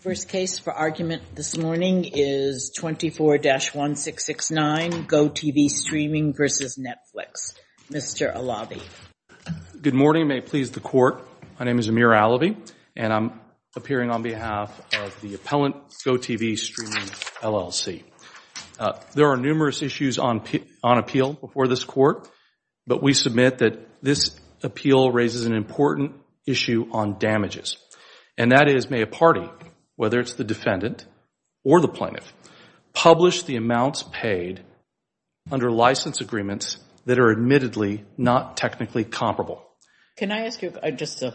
First case for argument this morning is 24-1669, GoTV Streaming v. Netflix. Mr. Alabi. Good morning. May it please the Court, my name is Amir Alabi and I'm appearing on behalf of the Appellant GoTV Streaming, LLC. There are numerous issues on appeal before this Court, but we submit that this appeal raises an important issue on damages. And that is, may a party, whether it's the defendant or the plaintiff, publish the amounts paid under license agreements that are admittedly not technically comparable. Can I ask you just an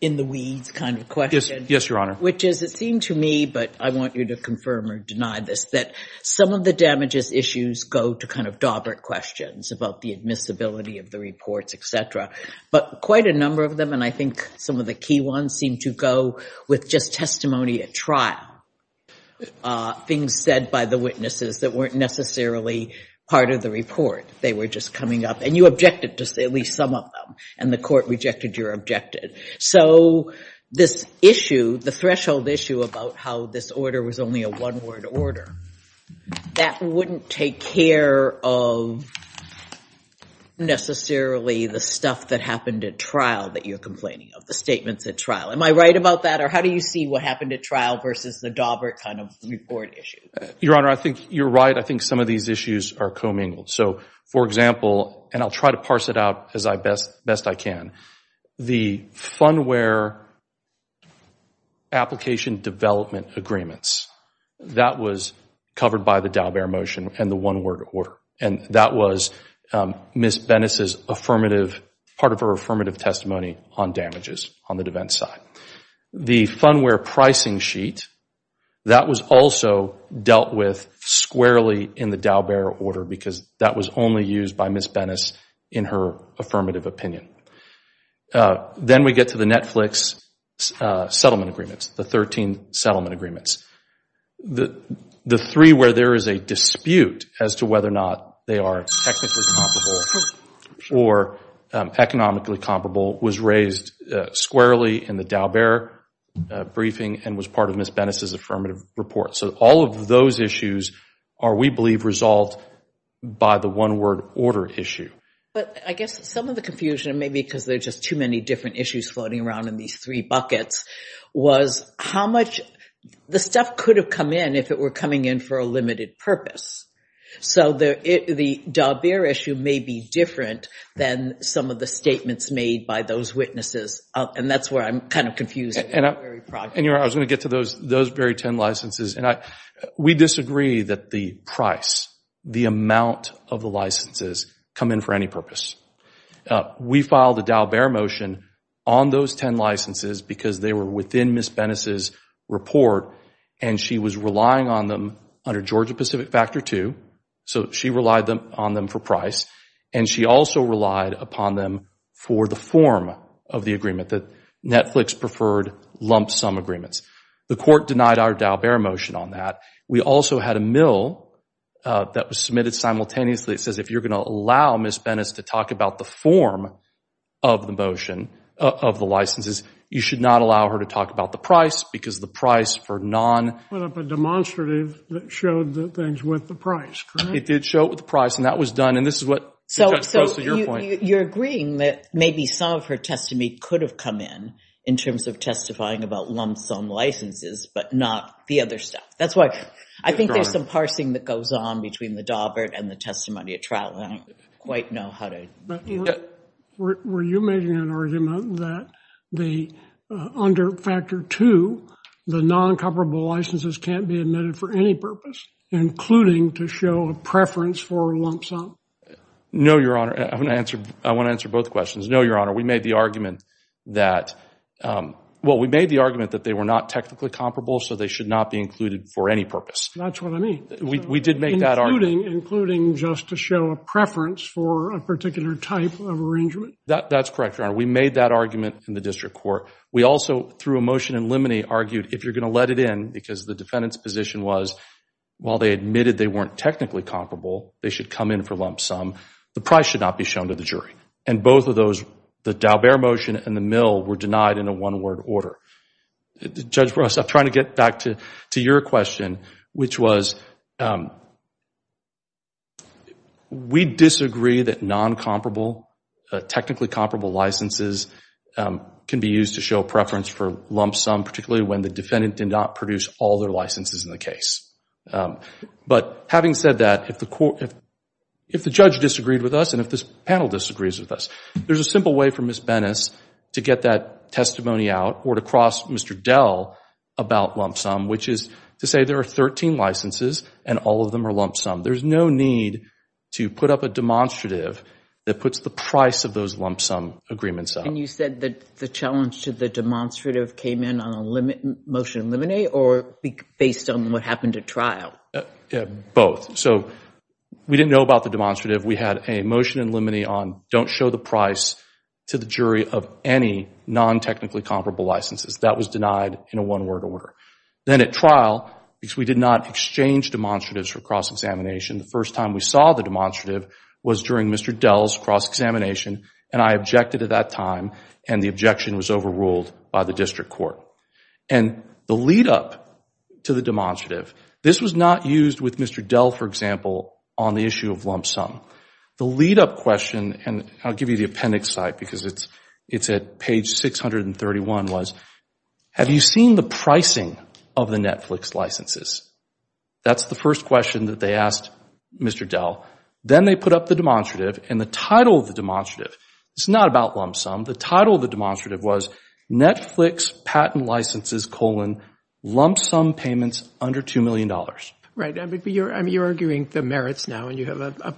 in-the-weeds kind of question? Yes, Your Honor. Which is, it seems to me, but I want you to confirm or deny this, that some of the damages issues go to kind of dauber questions about the admissibility of the reports, etc. But quite a number of them, and I think some of the key ones, seem to go with just testimony at trial, things said by the witnesses that weren't necessarily part of the report. They were just coming up. And you objected to at least some of them. And the Court rejected your objection. So this issue, the threshold issue about how this order was only a one-word order, that wouldn't take care of necessarily the stuff that happened at trial that you're complaining of, the statements at trial. Am I right about that? Or how do you see what happened at trial versus the dauber kind of report issue? Your Honor, I think you're right. I think some of these issues are commingled. So for example, and I'll try to parse it out as best I can, the fundware application development agreements, that was covered by the dauber motion and the one-word order. And that was Ms. Benes' affirmative, part of her affirmative testimony on damages on the defense side. The fundware pricing sheet, that was also dealt with squarely in the dauber order because that was only used by Ms. Benes in her affirmative opinion. Then we get to the Netflix settlement agreements, the 13 settlement agreements. The three where there is a dispute as to whether or not they are technically comparable or economically comparable was raised squarely in the dauber briefing and was part of Ms. Benes' affirmative report. So all of those issues are, we believe, resolved by the one-word order issue. But I guess some of the confusion, maybe because there are just too many different issues floating around in these three buckets, was how much, the stuff could have come in if it were coming in for a limited purpose. So the dauber issue may be different than some of the statements made by those witnesses. And that's where I'm kind of confused. And Your Honor, I was going to get to those very 10 licenses. And we disagree that the price, the amount of the licenses come in for any purpose. We filed a dauber motion on those 10 licenses because they were within Ms. Benes' report and she was relying on them under Georgia Pacific Factor II. So she relied on them for price and she also relied upon them for the form of the agreement that Netflix preferred lump sum agreements. The court denied our dauber motion on that. We also had a mill that was submitted simultaneously that says if you're going to allow Ms. Benes to talk about the form of the motion, of the licenses, you should not allow her to talk about the price because the price for non- Put up a demonstrative that showed that things went for price, correct? It did show it with price and that was done. And this is what- So you're agreeing that maybe some of her testimony could have come in in terms of testifying about lump sum licenses, but not the other stuff. That's why I think there's some parsing that goes on between the dauber and the testimony at trial. I don't quite know how to- Were you making an argument that under Factor II, the non-comparable licenses can't be admitted for any purpose, including to show a preference for a lump sum? No, Your Honor. I want to answer both questions. No, Your Honor. We made the argument that they were not technically comparable, so they should not be included for any purpose. That's what I mean. We did make that argument. Including just to show a preference for a particular type of arrangement? That's correct, Your Honor. We made that argument in the district court. We also, through a motion in limine, argued if you're going to let it in, because the defendant's position was while they admitted they weren't technically comparable, they should come in for lump sum, the price should not be shown to the jury. And both of those, the dauber motion and the mill, were denied in a one-word order. Judge Russ, I'm trying to get back to your question, which was we disagree that non-comparable, technically comparable licenses can be used to show preference for lump sum, particularly when the defendant did not produce all their licenses in the case. But having said that, if the judge disagreed with us and if this panel disagrees with us, there's a simple way for Ms. Bennis to get that testimony out or to cross Mr. Dell about lump sum, which is to say there are 13 licenses and all of them are lump sum. There's no need to put up a demonstrative that puts the price of those lump sum agreements up. And you said that the challenge to the demonstrative came in on a motion in limine, or based on what happened at trial? Both. So, we didn't know about the demonstrative. We had a motion in limine on don't show the price to the jury of any non-technically comparable licenses. That was denied in a one-word order. Then at trial, because we did not exchange demonstratives for cross-examination, the first time we saw the demonstrative was during Mr. Dell's cross-examination, and I objected at that time, and the objection was overruled by the district court. And the lead-up to the demonstrative, this was not used with Mr. Dell, for example, on the issue of lump sum. The lead-up question, and I'll give you the appendix slide because it's at page 631, was have you seen the pricing of the Netflix licenses? That's the first question that they asked Mr. Dell. Then they put up the demonstrative, and the title of the demonstrative, it's not about the lump sum. The title of the demonstrative was Netflix patent licenses, colon, lump sum payments under $2 million. Right. I mean, you're arguing the merits now, and you have a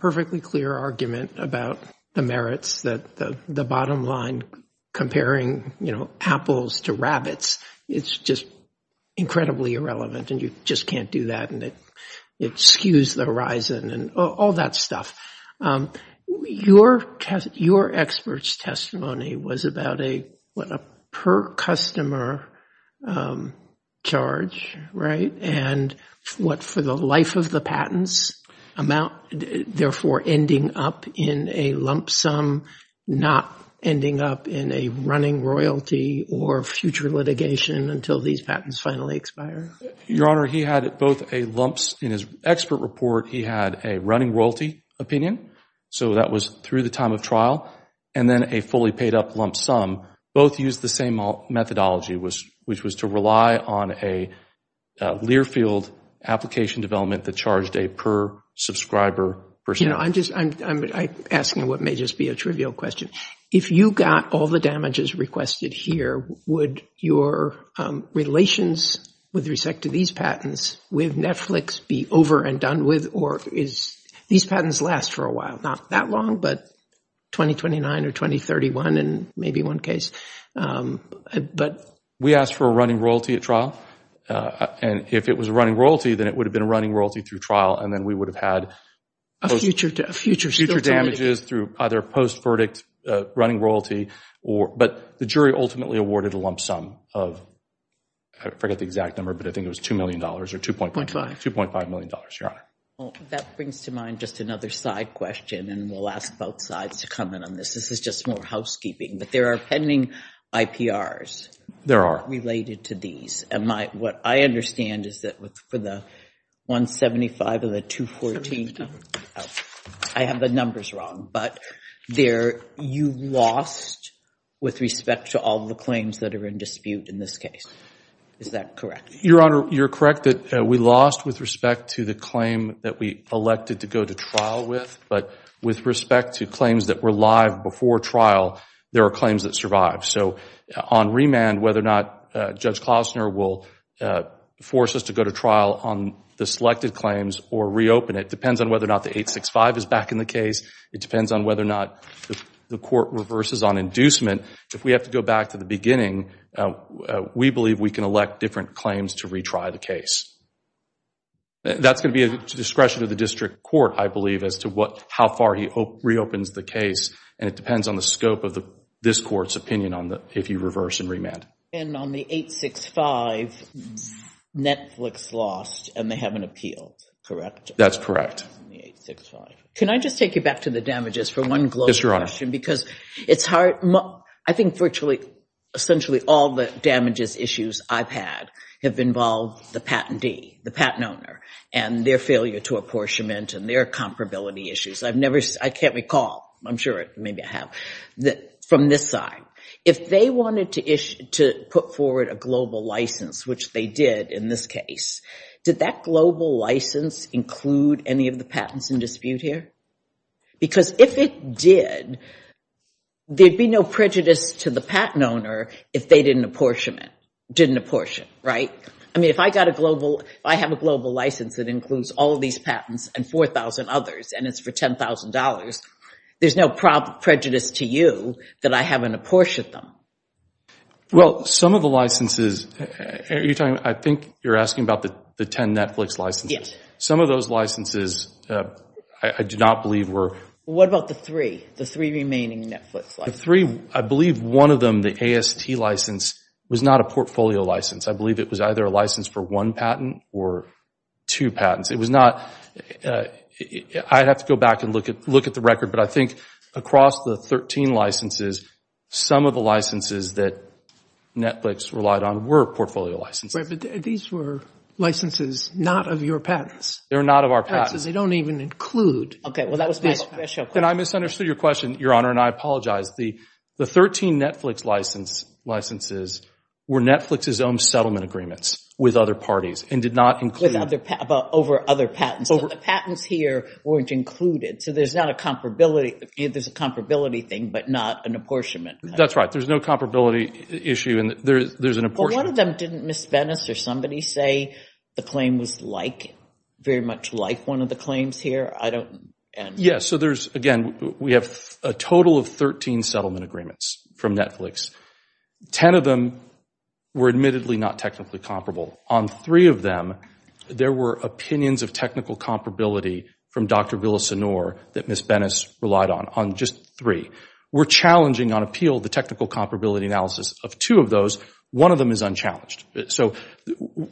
perfectly clear argument about the merits, the bottom line comparing apples to rabbits. It's just incredibly irrelevant, and you just can't do that, and it skews the horizon and all that stuff. Your expert's testimony was about a per-customer charge, right, and what, for the life of the patents, therefore ending up in a lump sum, not ending up in a running royalty or future litigation until these patents finally expire? Your Honor, he had both a lump, in his expert report, he had a running royalty opinion, so that was through the time of trial, and then a fully paid up lump sum. Both used the same methodology, which was to rely on a Learfield application development that charged a per-subscriber percentage. I'm asking what may just be a trivial question. If you got all the damages requested here, would your relations with respect to these patents with Netflix be over and done with, or is these patents last for a while, not that long, but 2029 or 2031, and maybe one case? We asked for a running royalty at trial, and if it was a running royalty, then it would have been running royalty through trial, and then we would have had future damages through either post-verdict running royalty, but the jury ultimately awarded a lump sum of, I forget the exact number, but I think it was $2 million or $2.5 million, Your Honor. That brings to mind just another side question, and we'll ask both sides to comment on this, this is just more housekeeping, but there are pending IPRs. There are. Related to these, and what I understand is that for the 175 and the 214, I have the numbers wrong, but there, you lost with respect to all the claims that are in dispute in this case. Is that correct? Your Honor, you're correct that we lost with respect to the claim that we elected to go to trial with, but with respect to claims that were live before trial, there are claims that survived. So on remand, whether or not Judge Klosner will force us to go to trial on the selected claims or reopen it depends on whether or not the 865 is back in the case. It depends on whether or not the court reverses on inducement. If we have to go back to the beginning, we believe we can elect different claims to retry the case. That's going to be a discretion of the district court, I believe, as to what, how far he reopens the case, and it depends on the scope of this court's opinion on the, if you reverse and remand. And on the 865, Netflix lost, and they have an appeal, correct? That's correct. On the 865. Can I just take you back to the damages for one close question, because it's hard. I think virtually, essentially all the damages issues I've had have involved the patentee, the patent owner, and their failure to apportionment and their comparability issues. I've never, I can't recall. I'm sure maybe I have. From this side, if they wanted to issue, to put forward a global license, which they did in this case, did that global license include any of the patents in dispute here? Because if it did, there'd be no prejudice to the patent owner if they didn't apportion it, didn't apportion, right? I mean, if I got a global, if I have a global license that includes all of these patents and 4,000 others, and it's for $10,000, there's no prejudice to you that I haven't apportioned them. Well, some of the licenses, I think you're asking about the 10 Netflix licenses. Some of those licenses, I do not believe were... What about the three? The three remaining Netflix licenses? The three, I believe one of them, the AST license, was not a portfolio license. I believe it was either a license for one patent or two patents. It was not... I'd have to go back and look at the record, but I think across the 13 licenses, some of the licenses that Netflix relied on were portfolio licenses. Wait, but these were licenses not of your patents? They're not of our patents. They don't even include... Okay, well, that was my special question. Then I misunderstood your question, Your Honor, and I apologize. The 13 Netflix licenses were Netflix's own settlement agreements with other parties and did not include... Over other patents, but the patents here weren't included, so there's a comparability thing, but not an apportionment. That's right. There's no comparability issue, and there's an apportionment. But one of them, didn't Ms. Bennis or somebody say the claim was very much like one of the claims here? I don't... Yes, so there's... Again, we have a total of 13 settlement agreements from Netflix. 10 of them were admittedly not technically comparable. On three of them, there were opinions of technical comparability from Dr. Villasenor that Ms. Bennis relied on, on just three. We're challenging on appeal the technical comparability analysis of two of those. One of them is unchallenged. So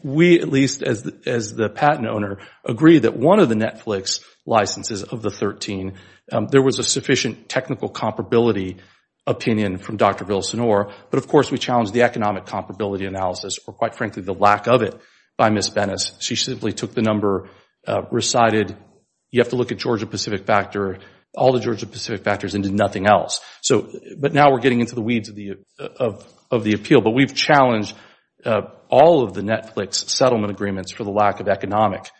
we, at least as the patent owner, agree that one of the Netflix licenses of the 13, there was a sufficient technical comparability opinion from Dr. Villasenor, but of course, we challenge the economic comparability analysis, or quite frankly, the lack of it by Ms. Bennis. She simply took the number, recited, you have to look at Georgia-Pacific factor, all the Georgia-Pacific factors, and did nothing else. But now we're getting into the weeds of the appeal, but we've challenged all of the Netflix settlement agreements for the lack of economic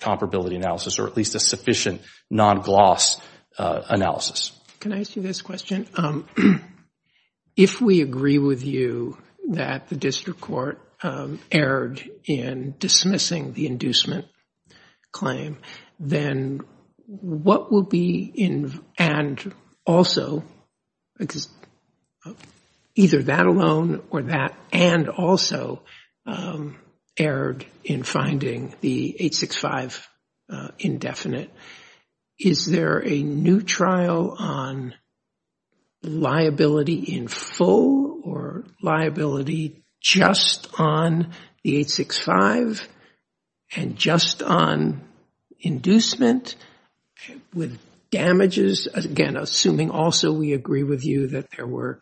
comparability analysis, or at least a sufficient non-gloss analysis. Can I answer this question? If we agree with you that the district court erred in dismissing the inducement claim, then what will be in, and also, either that alone or that and also erred in finding the 865 indefinite? Is there a new trial on liability in full, or liability just on the 865 and just on inducement with damages, again, assuming also we agree with you that there were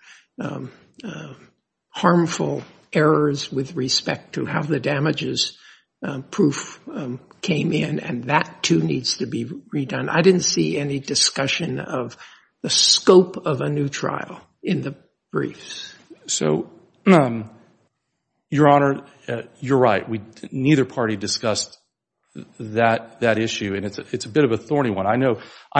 harmful errors with respect to how the damages proof came in, and that, too, needs to be redone? I didn't see any discussion of the scope of a new trial in the briefs. So Your Honor, you're right. We neither party discussed that issue, and it's a bit of a thorny one. I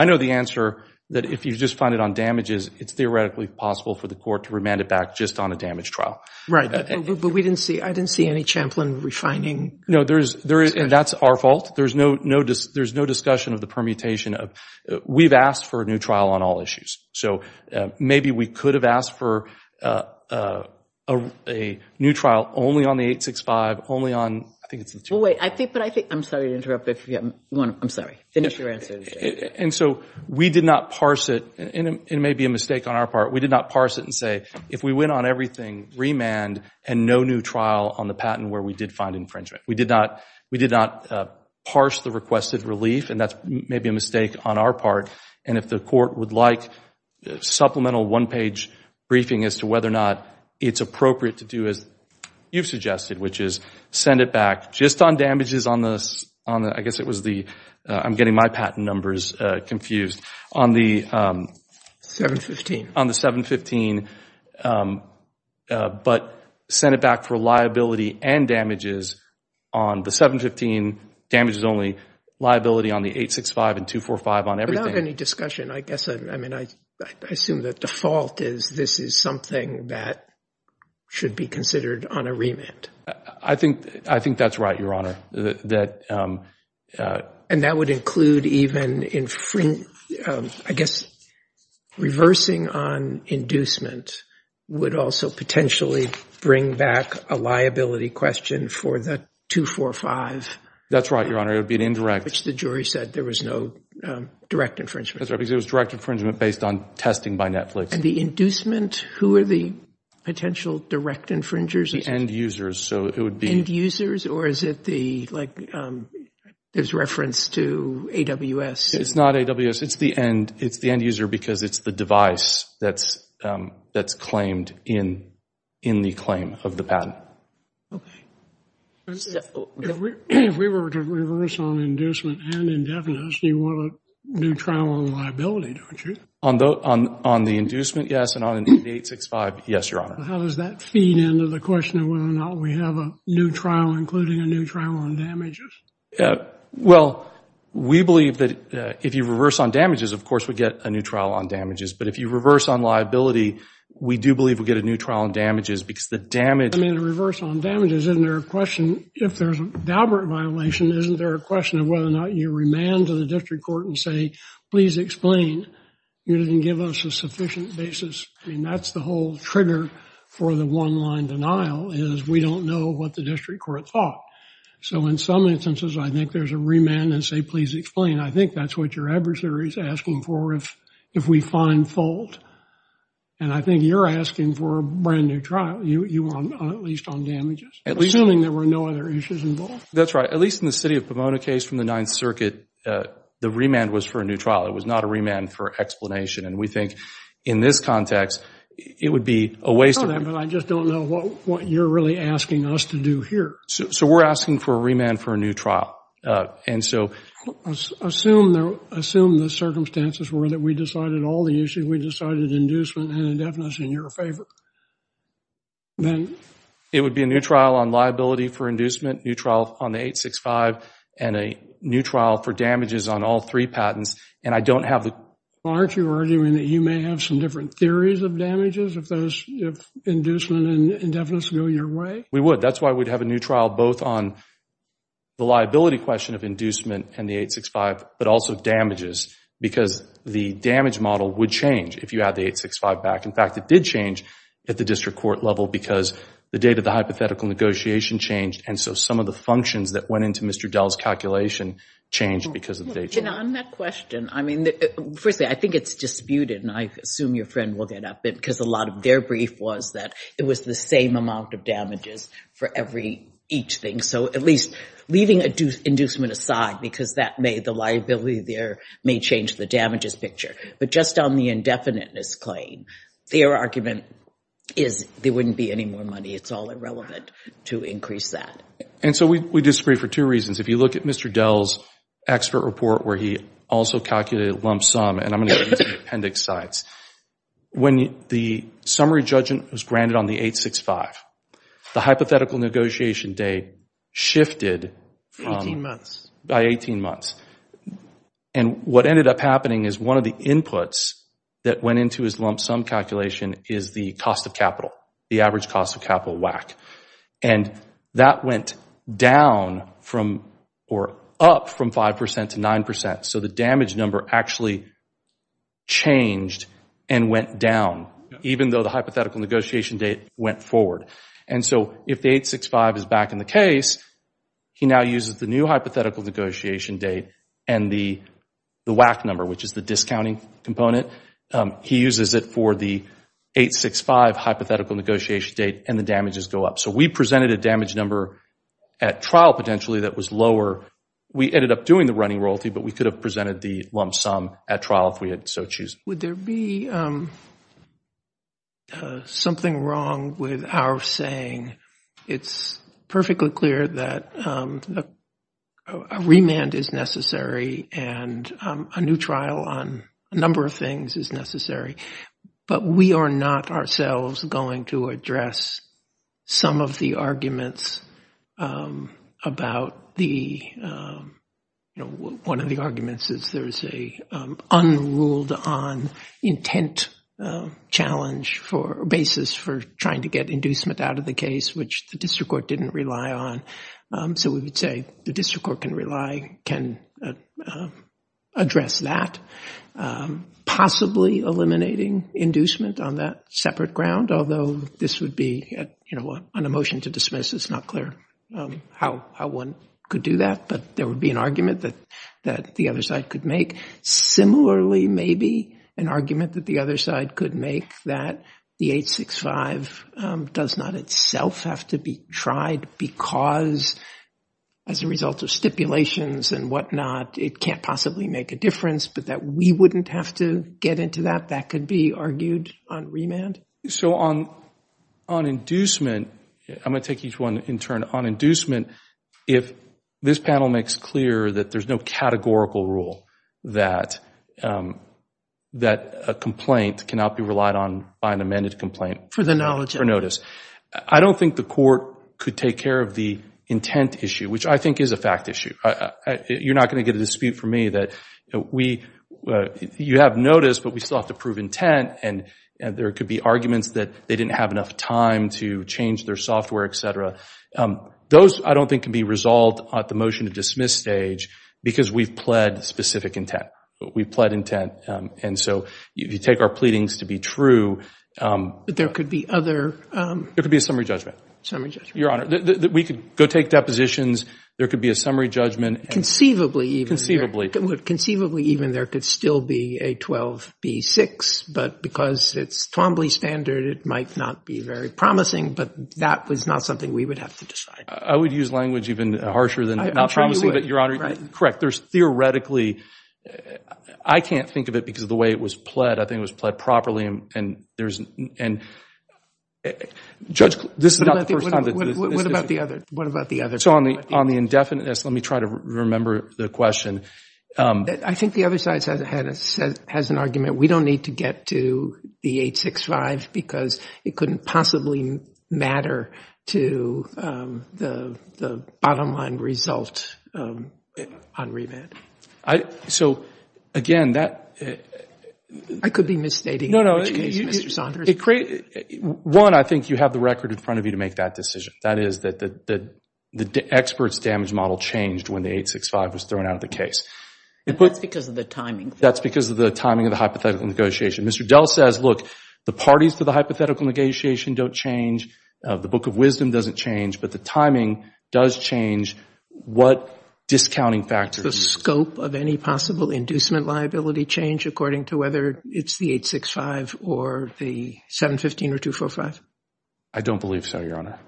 know the answer that if you just find it on damages, it's theoretically possible for the court to remand it back just on a damage trial. Right. But we didn't see, I didn't see any Champlin refining. No, there is, and that's our fault. There's no discussion of the permutation of, we've asked for a new trial on all issues. So maybe we could have asked for a new trial only on the 865, only on, I think it's in Champlin. Well, wait, I think, but I think, I'm sorry to interrupt, but if you have one, I'm sorry, finish your answer. And so we did not parse it, and it may be a mistake on our part, we did not parse it to say, if we went on everything, remand, and no new trial on the patent where we did find infringement. We did not, we did not parse the requested relief, and that may be a mistake on our part. And if the court would like supplemental one-page briefing as to whether or not it's appropriate to do it, you've suggested, which is send it back just on damages on the, I guess it was the, I'm getting my patent numbers confused. On the 715. On the 715, but send it back for liability and damages on the 715, damages only, liability on the 865 and 245 on everything. Without any discussion, I guess, I mean, I assume the default is this is something that should be considered on a remand. I think, I think that's right, Your Honor, that. And that would include even, I guess, reversing on inducement would also potentially bring back a liability question for the 245. That's right, Your Honor, it would be an indirect. Which the jury said there was no direct infringement. That's right, because it was direct infringement based on testing by Netflix. And the inducement, who are the potential direct infringers? The end users, so it would be. End users, or is it the, like, it's referenced to AWS? It's not AWS, it's the end, it's the end user because it's the device that's claimed in the claim of the patent. Okay. If we were to reverse on inducement and indefinite, you want a new trial on liability, don't you? On the inducement, yes, and on the 865, yes, Your Honor. How does that feed into the question of whether or not we have a new trial, including a new trial on damages? Well, we believe that if you reverse on damages, of course, we get a new trial on damages. But if you reverse on liability, we do believe we get a new trial on damages because the damage. I mean, the reverse on damages, isn't there a question, if there's a Valbert violation, isn't there a question of whether or not you remand to the district court and say, please explain. You didn't give us a sufficient basis. I mean, that's the whole trigger for the one-line denial is we don't know what the district court thought. So, in some instances, I think there's a remand and say, please explain. I think that's what your adversary is asking for if we find fault. And I think you're asking for a brand new trial, at least on damages, assuming there were no other issues involved. That's right. At least in the city of Pomona case from the Ninth Circuit, the remand was for a new trial. It was not a remand for explanation. And we think, in this context, it would be a waste of time. I just don't know what you're really asking us to do here. So, we're asking for a remand for a new trial. And so, assume the circumstances were that we decided all the issues. We decided inducement and indefinite is in your favor. It would be a new trial on liability for inducement, new trial on the 865, and a new trial for damages on all three patents. Aren't you arguing that you may have some different theories of damages if those inducements and indefinites go your way? We would. That's why we'd have a new trial, both on the liability question of inducement and the 865, but also damages. Because the damage model would change if you had the 865 back. In fact, it did change at the district court level because the date of the hypothetical negotiation changed. And so, some of the functions that went into Mr. Dell's calculation changed because of that. And on that question, I mean, frankly, I think it's disputed, and I assume your friend will get up, because a lot of their brief was that it was the same amount of damages for each thing. So, at least leaving inducement aside, because that may, the liability there may change the damages picture. But just on the indefinite misclaim, their argument is there wouldn't be any more money. It's all irrelevant to increase that. And so, we disagree for two reasons. If you look at Mr. Dell's expert report where he also calculated lump sum, and I'm going to use the appendix slides, when the summary judgment was granted on the 865, the hypothetical negotiation date shifted by 18 months. And what ended up happening is one of the inputs that went into his lump sum calculation is the cost of capital, the average cost of capital WAC. And that went down from or up from 5% to 9%. So, the damage number actually changed and went down, even though the hypothetical negotiation date went forward. And so, if the 865 is back in the case, he now uses the new hypothetical negotiation date and the WAC number, which is the discounting component. He uses it for the 865 hypothetical negotiation date and the damages go up. So, we presented a damage number at trial potentially that was lower. We ended up doing the running royalty, but we could have presented the lump sum at trial if we had so chosen. Would there be something wrong with our saying it's perfectly clear that a remand is necessary and a new trial on a number of things is necessary, but we are not ourselves going to address some of the arguments about the, you know, one of the arguments is there's a unruled on intent challenge for basis for trying to get inducement out of the case, which the district court didn't rely on. So, we would say the district court can rely, can address that, possibly eliminating inducement on that separate ground, although this would be, you know, an emotion to dismiss. It's not clear how one could do that, but there would be an argument that the other side could make. Similarly, maybe an argument that the other side could make that the 865 does not itself have to be tried because as a result of stipulations and whatnot, it can't possibly make a difference, but that we wouldn't have to get into that. That could be argued on remand. So, on inducement, I'm going to take each one in turn. On inducement, if this panel makes clear that there's no categorical rule that a complaint cannot be relied on by an amended complaint for notice. I don't think the court could take care of the intent issue, which I think is a fact issue. You're not going to get a dispute from me that we, you have notice, but we still have to prove intent, and there could be arguments that they didn't have enough time to change their software, et cetera. Those, I don't think, can be resolved at the motion to dismiss stage because we pled specific intent. We pled intent, and so you take our pleadings to be true. But there could be other... There could be a summary judgment. Summary judgment. Your Honor, we could go take depositions. There could be a summary judgment. Conceivably, even. Conceivably, even, there could still be a 12B6, but because it's Twombly standard, it might not be very promising, but that was not something we would have to decide. I would use language even harsher than not promising, but Your Honor, correct, there's theoretically, I can't think of it because of the way it was pled. I think it was pled properly, and there's... What about the other? What about the other? On the indefinite, let me try to remember the question. I think the other side has an argument. We don't need to get to the 865 because it couldn't possibly matter to the bottom line result on remand. So, again, that... I could be misstating. No, no. One, I think you have the record in front of you to make that decision. That is that the expert's damage model changed when the 865 was thrown out of the case. That's because of the timing. That's because of the timing of the hypothetical negotiation. Mr. Dell says, look, the parties for the hypothetical negotiation don't change, the Book of Wisdom doesn't change, but the timing does change what discounting factors... Does the scope of any possible inducement liability change according to whether it's the 865 or the 715 or 245? I don't believe so, Your Honor.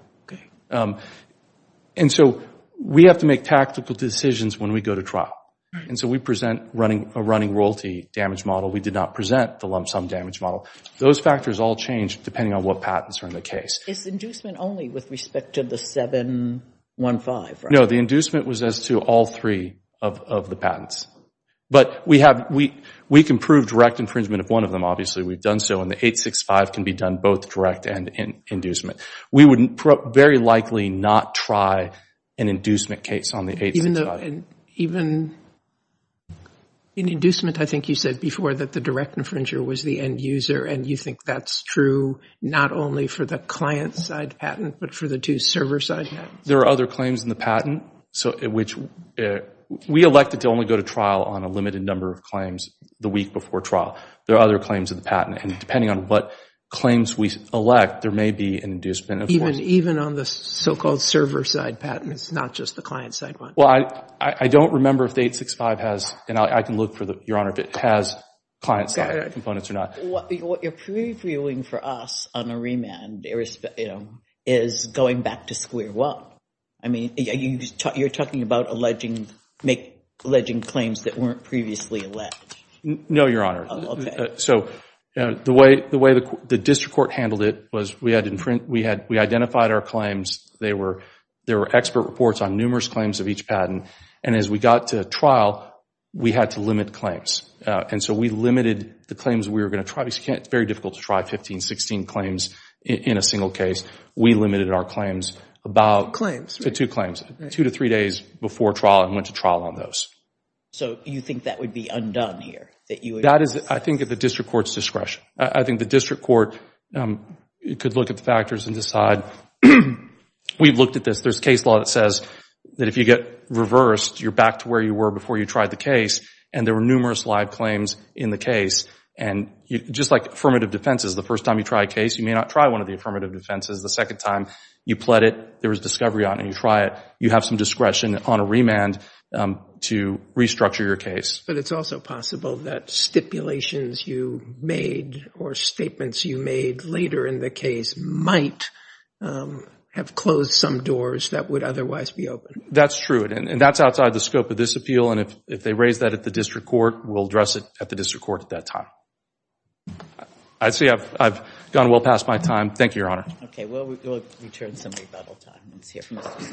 And so we have to make tactical decisions when we go to trial. And so we present a running royalty damage model. We did not present the lump sum damage model. Those factors all change depending on what patents are in the case. It's inducement only with respect to the 715, right? No, the inducement was as to all three of the patents. But we can prove direct infringement of one of them, obviously. We've done so, and the 865 can be done both direct and in inducement. We would very likely not try an inducement case on the 865. In inducement, I think you said before that the direct infringer was the end user, and you think that's true not only for the client-side patent, but for the two server-side patents? There are other claims in the patent, which we elected to only go to trial on a limited number of claims the week before trial. There are other claims in the patent. And depending on what claims we elect, there may be an inducement. Even on the so-called server-side patent, it's not just the client-side one? Well, I don't remember if the 865 has, and I can look for the, Your Honor, if it has client-side components or not. But what you're previewing for us on a remand is going back to square one. I mean, you're talking about alleging claims that weren't previously alleged. No, Your Honor. Okay. So the way the district court handled it was we identified our claims. There were expert reports on numerous claims of each patent. And as we got to trial, we had to limit claims. And so we limited the claims we were going to try. It's very difficult to try 15, 16 claims in a single case. We limited our claims to two claims, two to three days before trial, and went to trial on those. So you think that would be undone here? That is, I think, at the district court's discretion. I think the district court could look at the factors and decide. We looked at this. There's a case law that says that if you get reversed, you're back to where you were before you tried the case. And there were numerous live claims in the case. And just like affirmative defenses, the first time you try a case, you may not try one of the affirmative defenses. The second time you pled it, there was discovery on it. You try it. You have some discretion on a remand to restructure your case. But it's also possible that stipulations you made or statements you made later in the case might have closed some doors that would otherwise be open. That's true. And that's outside the scope of this appeal. And if they raise that at the district court, we'll address it at the district court at that time. I'd say I've gone well past my time. Thank you, Your Honor. OK. We'll return to the rebuttal time. Let's hear from the defense.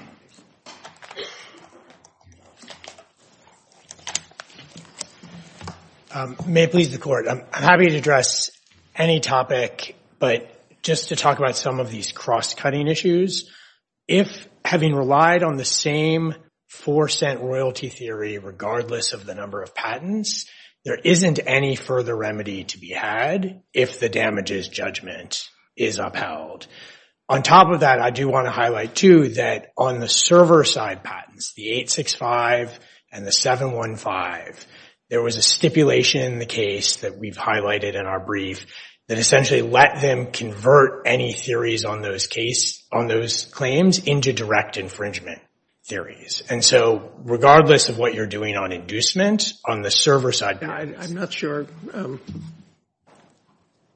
May it please the court, I'm happy to address any topic, but just to talk about some of these cross-cutting issues. If having relied on the same 4-cent royalty theory, regardless of the number of patents, there isn't any further remedy to be had if the damages judgment is upheld. On top of that, I do want to highlight, too, that on the server-side patents, the 865 and the 715, there was a stipulation in the case that we've highlighted in our brief that essentially let them convert any theories on those claims into direct infringement theories. And so regardless of what you're doing on inducements, on the server-side... I'm not sure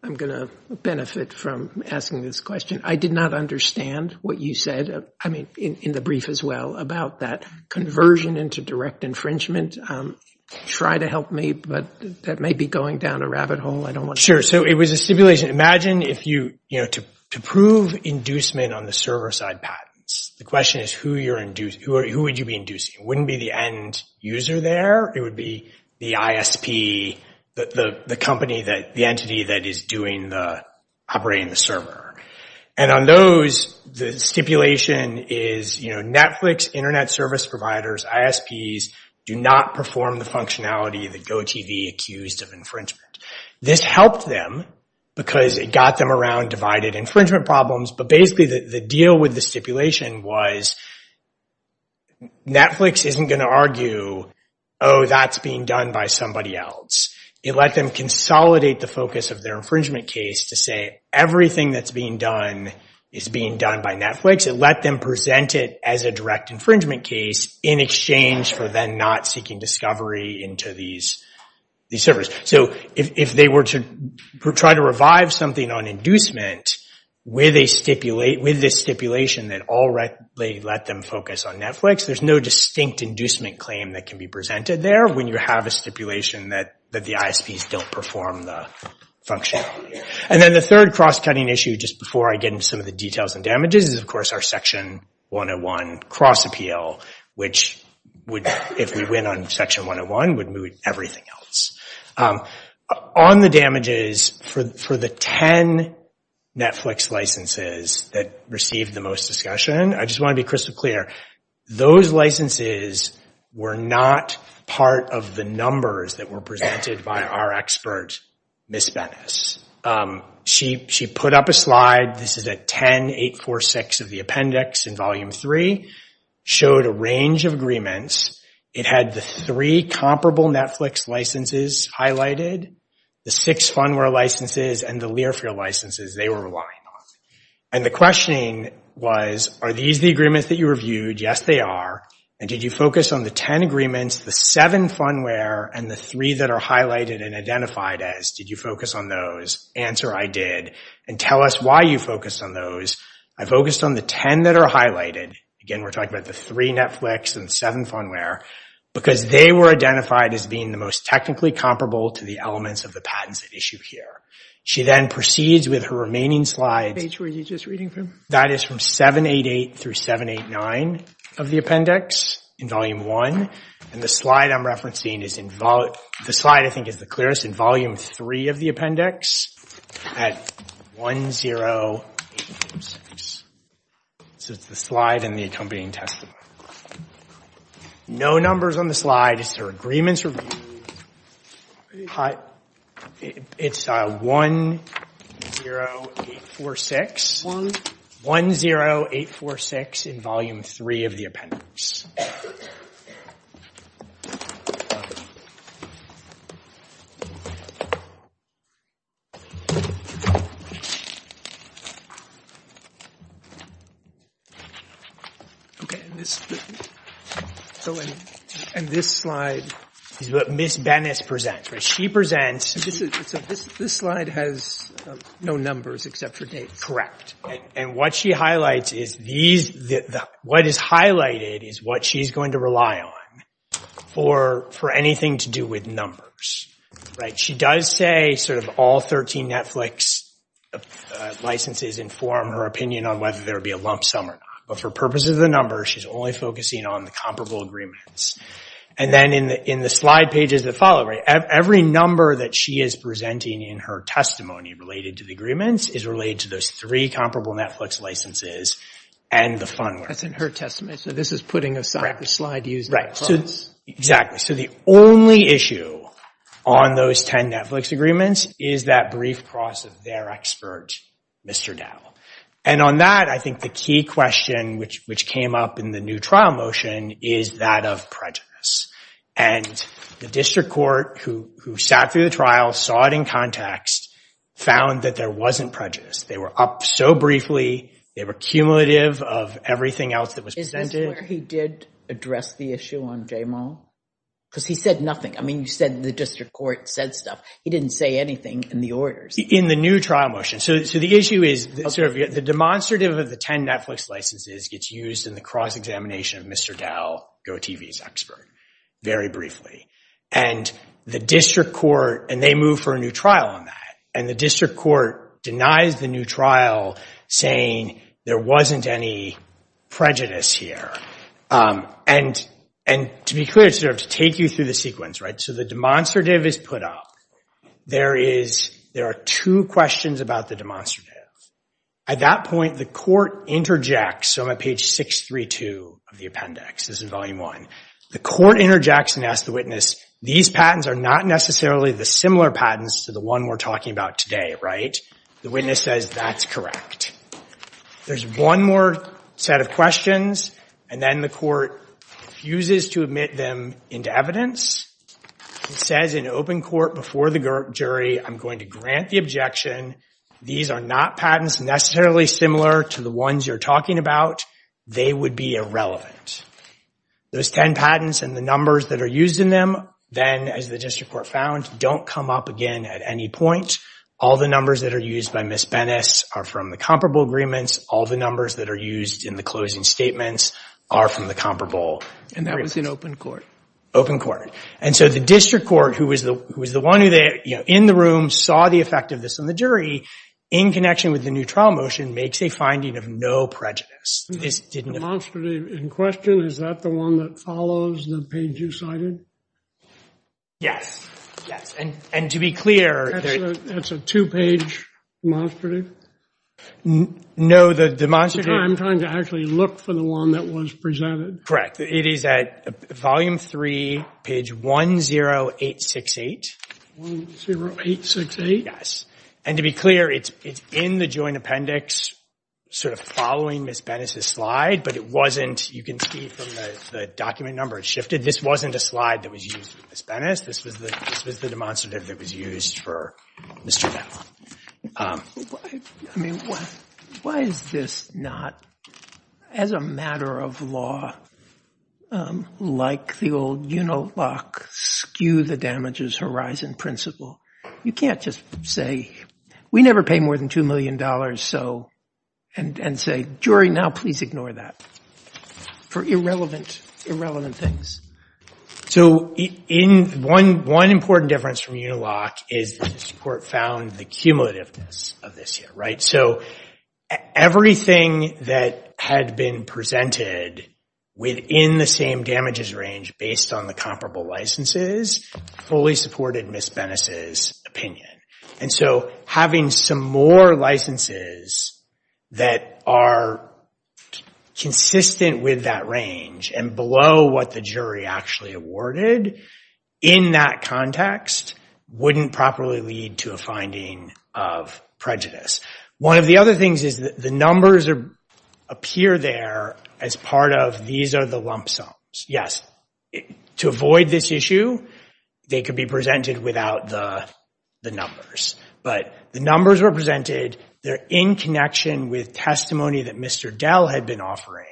I'm going to benefit from asking this question. I did not understand what you said, I mean, in the brief as well, about that conversion into direct infringement. Try to help me, but that may be going down a rabbit hole. I don't want to... Sure. So it was a stipulation. Imagine if you... To prove inducement on the server-side patents, the question is who would you be inducing? It wouldn't be the end user there. It would be the ISP, the company, the entity that is operating the server. And on those, the stipulation is Netflix, internet service providers, ISPs do not perform the functionality that GoTV accused of infringement. This helped them because it got them around divided infringement problems, but basically the deal with the stipulation was Netflix isn't going to argue, oh, that's being done by somebody else. It let them consolidate the focus of their infringement case to say everything that's being done is being done by Netflix. It let them present it as a direct infringement case in exchange for them not seeking discovery into these servers. So if they were to try to revive something on inducement with a stipulation that already let them focus on Netflix, there's no distinct inducement claim that can be presented there when you have a stipulation that the ISPs don't perform the function. And then the third cross-cutting issue, just before I get into some of the details and damages, is of course our Section 101 cross-appeal, which if we went on Section 101 would move to the next slide. And then we would move to everything else. On the damages, for the 10 Netflix licenses that received the most discussion, I just want to be crystal clear, those licenses were not part of the numbers that were presented by our experts, Ms. Bennis. She put up a slide. This is at 10.846 of the appendix in Volume 3. Showed a range of agreements. It had the three comparable Netflix licenses highlighted, the six fundware licenses, and the Learfield licenses they were relying on. And the question was, are these the agreements that you reviewed? Yes, they are. And did you focus on the 10 agreements, the seven fundware, and the three that are highlighted and identified as? Did you focus on those? Answer, I did. And tell us why you focused on those. I focused on the 10 that are highlighted. Again, we're talking about the three Netflix and seven fundware. Because they were identified as being the most technically comparable to the elements of the patents issued here. She then proceeds with her remaining slides. Which page were you just reading from? That is from 788 through 789 of the appendix in Volume 1. And the slide I'm referencing is in Volume, the slide I think is the clearest, in Volume 3 of the appendix at 10846. This is the slide in the accompanying testimony. No numbers on the slide. It's her agreements reviewed. It's 10846. 10846 in Volume 3 of the appendix. And this slide. Ms. Bennis presents. She presents. This slide has no numbers except for date. Correct. And what she highlights is these. What is highlighted is what she's going to rely on for anything to do with numbers. She does say sort of all 13 Netflix licenses inform her opinion on whether there will be a lump sum or not. But for purposes of the numbers, she's only focusing on the comparable agreements. And then in the slide pages that follow, every number that she is presenting in her testimony related to the agreements is related to those three comparable Netflix licenses and the fund. That's in her testimony. So this is putting a slide to use. Exactly. So the only issue on those 10 Netflix agreements is that brief cross of their expert, Mr. Dow. And on that, I think the key question which came up in the new trial motion is that of prejudice. And the district court who sat through the trial, saw it in context, found that there wasn't prejudice. They were up so briefly. They were cumulative of everything else that was presented. He did address the issue on J. Because he said nothing. I mean, you said the district court said stuff. He didn't say anything in the order in the new trial motion. So the issue is the demonstrative of the 10 Netflix licenses gets used in the cross examination of Mr. Dow. Well, you're a TV expert. Very briefly. And the district court and they move for a new trial on that. And the district court denies the new trial, saying there wasn't any prejudice here. And and to be clear, it serves to take you through the sequence. Right. So the demonstrative is put up. There is there are two questions about the demonstrative. At that point, the court interjects. Page six, three, two of the appendix. This is volume one. The court interjects and asked the witness. These patents are not necessarily the similar patents to the one we're talking about today. Right. The witness says that's correct. There's one more set of questions. And then the court uses to admit them into evidence. It says an open court before the jury. I'm going to grant the objection. These are not patents necessarily similar to the ones you're talking about. They would be irrelevant. There's 10 patents and the numbers that are used in them. Then, as the district court found, don't come up again at any point. All the numbers that are used by Ms. Bennis are from the comparable agreements. All the numbers that are used in the closing statements are from the comparable. And that was an open court. Open court. And so the district court, who was the one in the room, saw the effect of this on the jury, in connection with the new trial motion, makes a finding of no prejudice. In question, is that the one that follows the page you cited? Yes. And to be clear... That's a two-page demonstrative? No, the demonstrative... I'm trying to actually look for the one that was presented. Correct. It is at volume three, page 10868. 10868? Yes. And to be clear, it's in the joint appendix, sort of following Ms. Bennis' slide, but it wasn't... You can see from the document number, it's shifted. This wasn't a slide that was used for Ms. This was the demonstrative that was used for Mr. Van Laan. I mean, why is this not, as a matter of law, like the old Unilock, skew the damages horizon principle? You can't just say, we never pay more than $2 million, and say, jury, now please ignore that, for irrelevant things. So, one important difference from Unilock is the support found, the cumulative of this year, right? So, everything that had been presented within the same damages range, based on the comparable licenses, fully supported Ms. Bennis' opinion. And so, having some more licenses that are consistent with that range, and below what the jury actually awarded, in that context, wouldn't properly lead to a finding of prejudice. One of the other things is that the numbers appear there as part of, these are the lump sums. Yes. To avoid this issue, they could be presented without the numbers. But, the numbers are presented, they're in connection with testimony that Mr. Dell had been offering,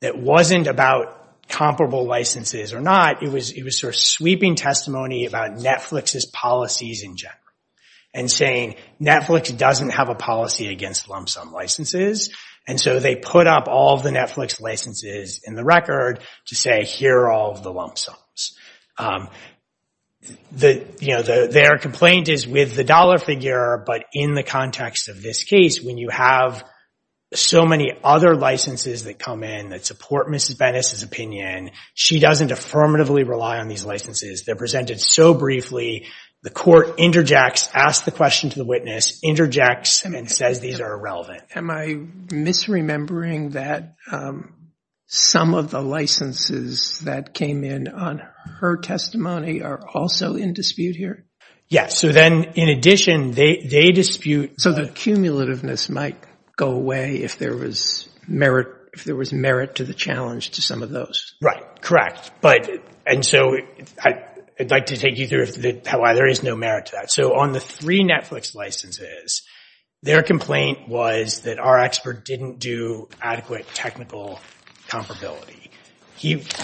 that wasn't about comparable licenses or not, it was sort of sweeping testimony about Netflix's policies in general. And saying, Netflix doesn't have a policy against lump sum licenses, and so they put up all the Netflix licenses in the record to say, here are all the lump sums. Their complaint is with the dollar figure, but in the context of this case, when you have so many other licenses that come in that support Ms. Bennis' opinion, she doesn't affirmatively rely on these licenses. They're presented so briefly, the court interjects, asks the question to the witness, interjects and then says, these are irrelevant. Am I misremembering that some of the licenses that came in on her testimony are also in dispute here? So then, in addition, they dispute, so the cumulativeness might go away if there was merit to the challenge to some of those. Right. Correct. And so, I'd like to take you through why there is no merit to that. So, on the three Netflix licenses, their complaint was that our expert didn't do adequate technical comparability.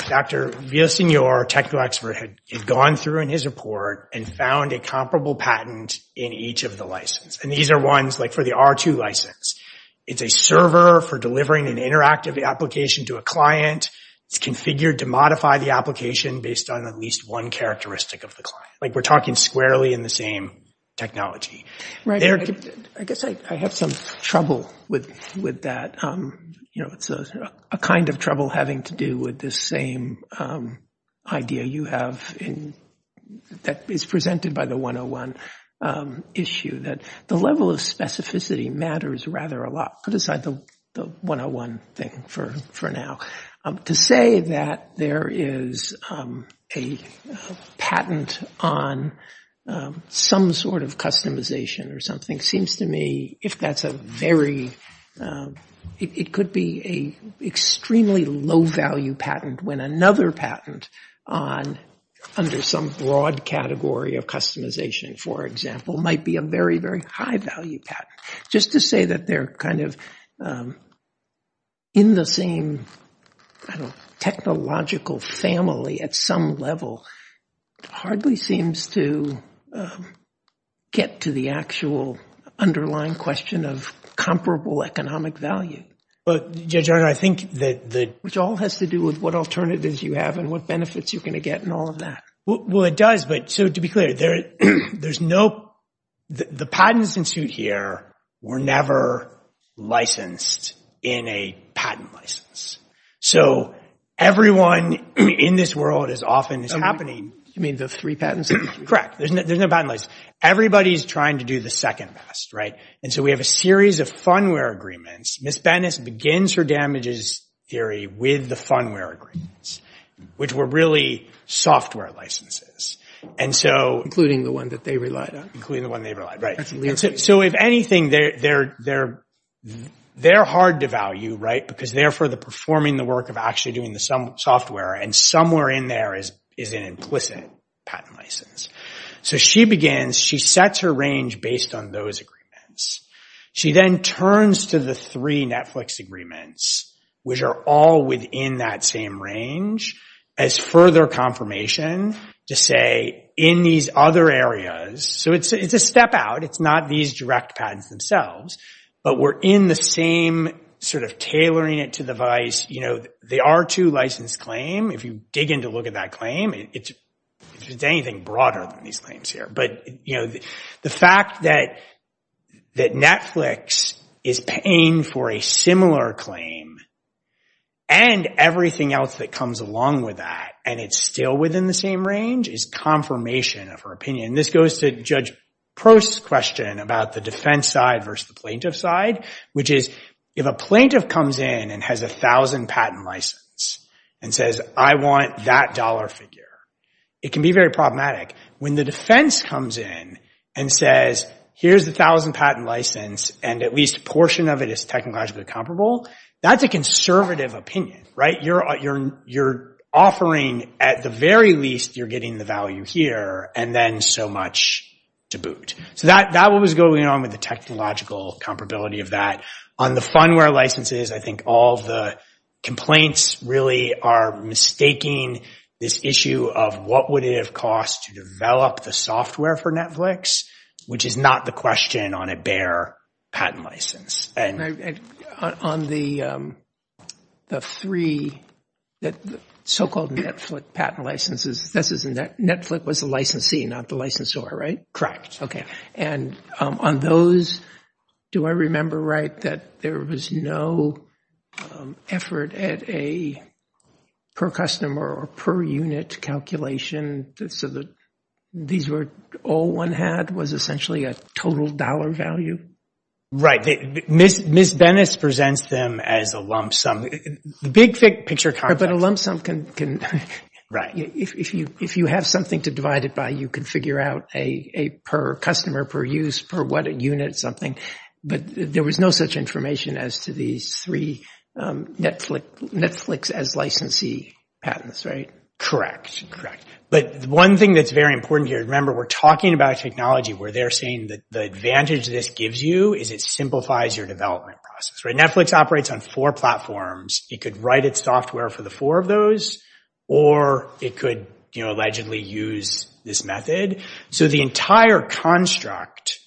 Dr. Villasenor, technical expert, had gone through in his report and found a comparable patent in each of the licenses. And these are ones like for the R2 license. It's a server for delivering an interactive application to a client. It's configured to modify the application based on at least one characteristic of the application. Like we're talking squarely in the same technology. Right. I guess I have some trouble with that. You know, it's a kind of trouble having to do with the same idea you have in that is presented by the 101 issue, that the level of specificity matters rather a lot. Other side, the 101 thing for now. To say that there is a patent on some sort of customization or something seems to me if that's a very, it could be a extremely low value patent when another patent under some broad category of customization, for example, might be a very, very high value patent. Just to say that they're kind of in the same technological family at some level hardly seems to get to the actual underlying question of comparable economic value. But, Judge Gardner, I think that it all has to do with what alternatives you have and what benefits you're going to get and all of that. Well, it does. But so to be clear, there's no, the patents in suit here were never licensed in a patent license. So everyone in this world as often is happening. You mean the three patents? Correct. There's no patent license. Everybody's trying to do the second best. Right. And so we have a series of fund where agreements. Ms. Bennis begins her damages theory with the fund where agreements, which were really software licenses. And so. Including the one that they relied on. Including the one they relied on. Right. So if anything, they're hard to value, right? Because they're for the performing the work of actually doing the software and somewhere in there is an implicit patent license. So she begins, she sets her range based on those agreements. She then turns to the three Netflix agreements, which are all within that same range as further confirmation to say in these other areas. So it's a step out. It's not these direct patents themselves, but we're in the same sort of tailoring it to the vice. You know, the R2 license claim. If you dig in to look at that claim, it's anything broader than these claims here. But, you know, the fact that that Netflix is paying for a similar claim and everything else that comes along with that and it's still within the same range is confirmation of her This goes to Judge Post's question about the defense side versus the plaintiff side, which is if a plaintiff comes in and has a thousand patent license and says, I want that dollar figure. It can be very problematic. When the defense comes in and says, here's a thousand patent license and at least a portion of it is technologically comparable, that's a conservative opinion, right? You're you're you're offering at the very least you're getting the value here and then so much to boot. So that that was going on with the technological comparability of that on the fun where licenses. I think all the complaints really are mistaking this issue of what would it have cost to develop the software for Netflix, which is not the question on a bare patent license. And on the the three that so-called Netflix patent licenses, this isn't that Netflix was the licensee, not the licensor, right? Correct. OK. And on those, do I remember right that there was no effort at a per customer or per unit calculation so that these were all one had was essentially a total dollar value. Right. Ms. Bennett's presents them as a lump sum. The big picture. But a lump sum can. Right. If you if you have something to divide it by, you can figure out a per customer, per use, per what a unit something. But there was no such information as to these three Netflix Netflix as licensee patents. Right. Correct. Correct. But one thing that's very important here, remember, we're talking about technology where they're saying that the advantage this gives you is it simplifies your development process. Right. Netflix operates on four platforms. It could write its software for the four of those or it could allegedly use this method. So the entire construct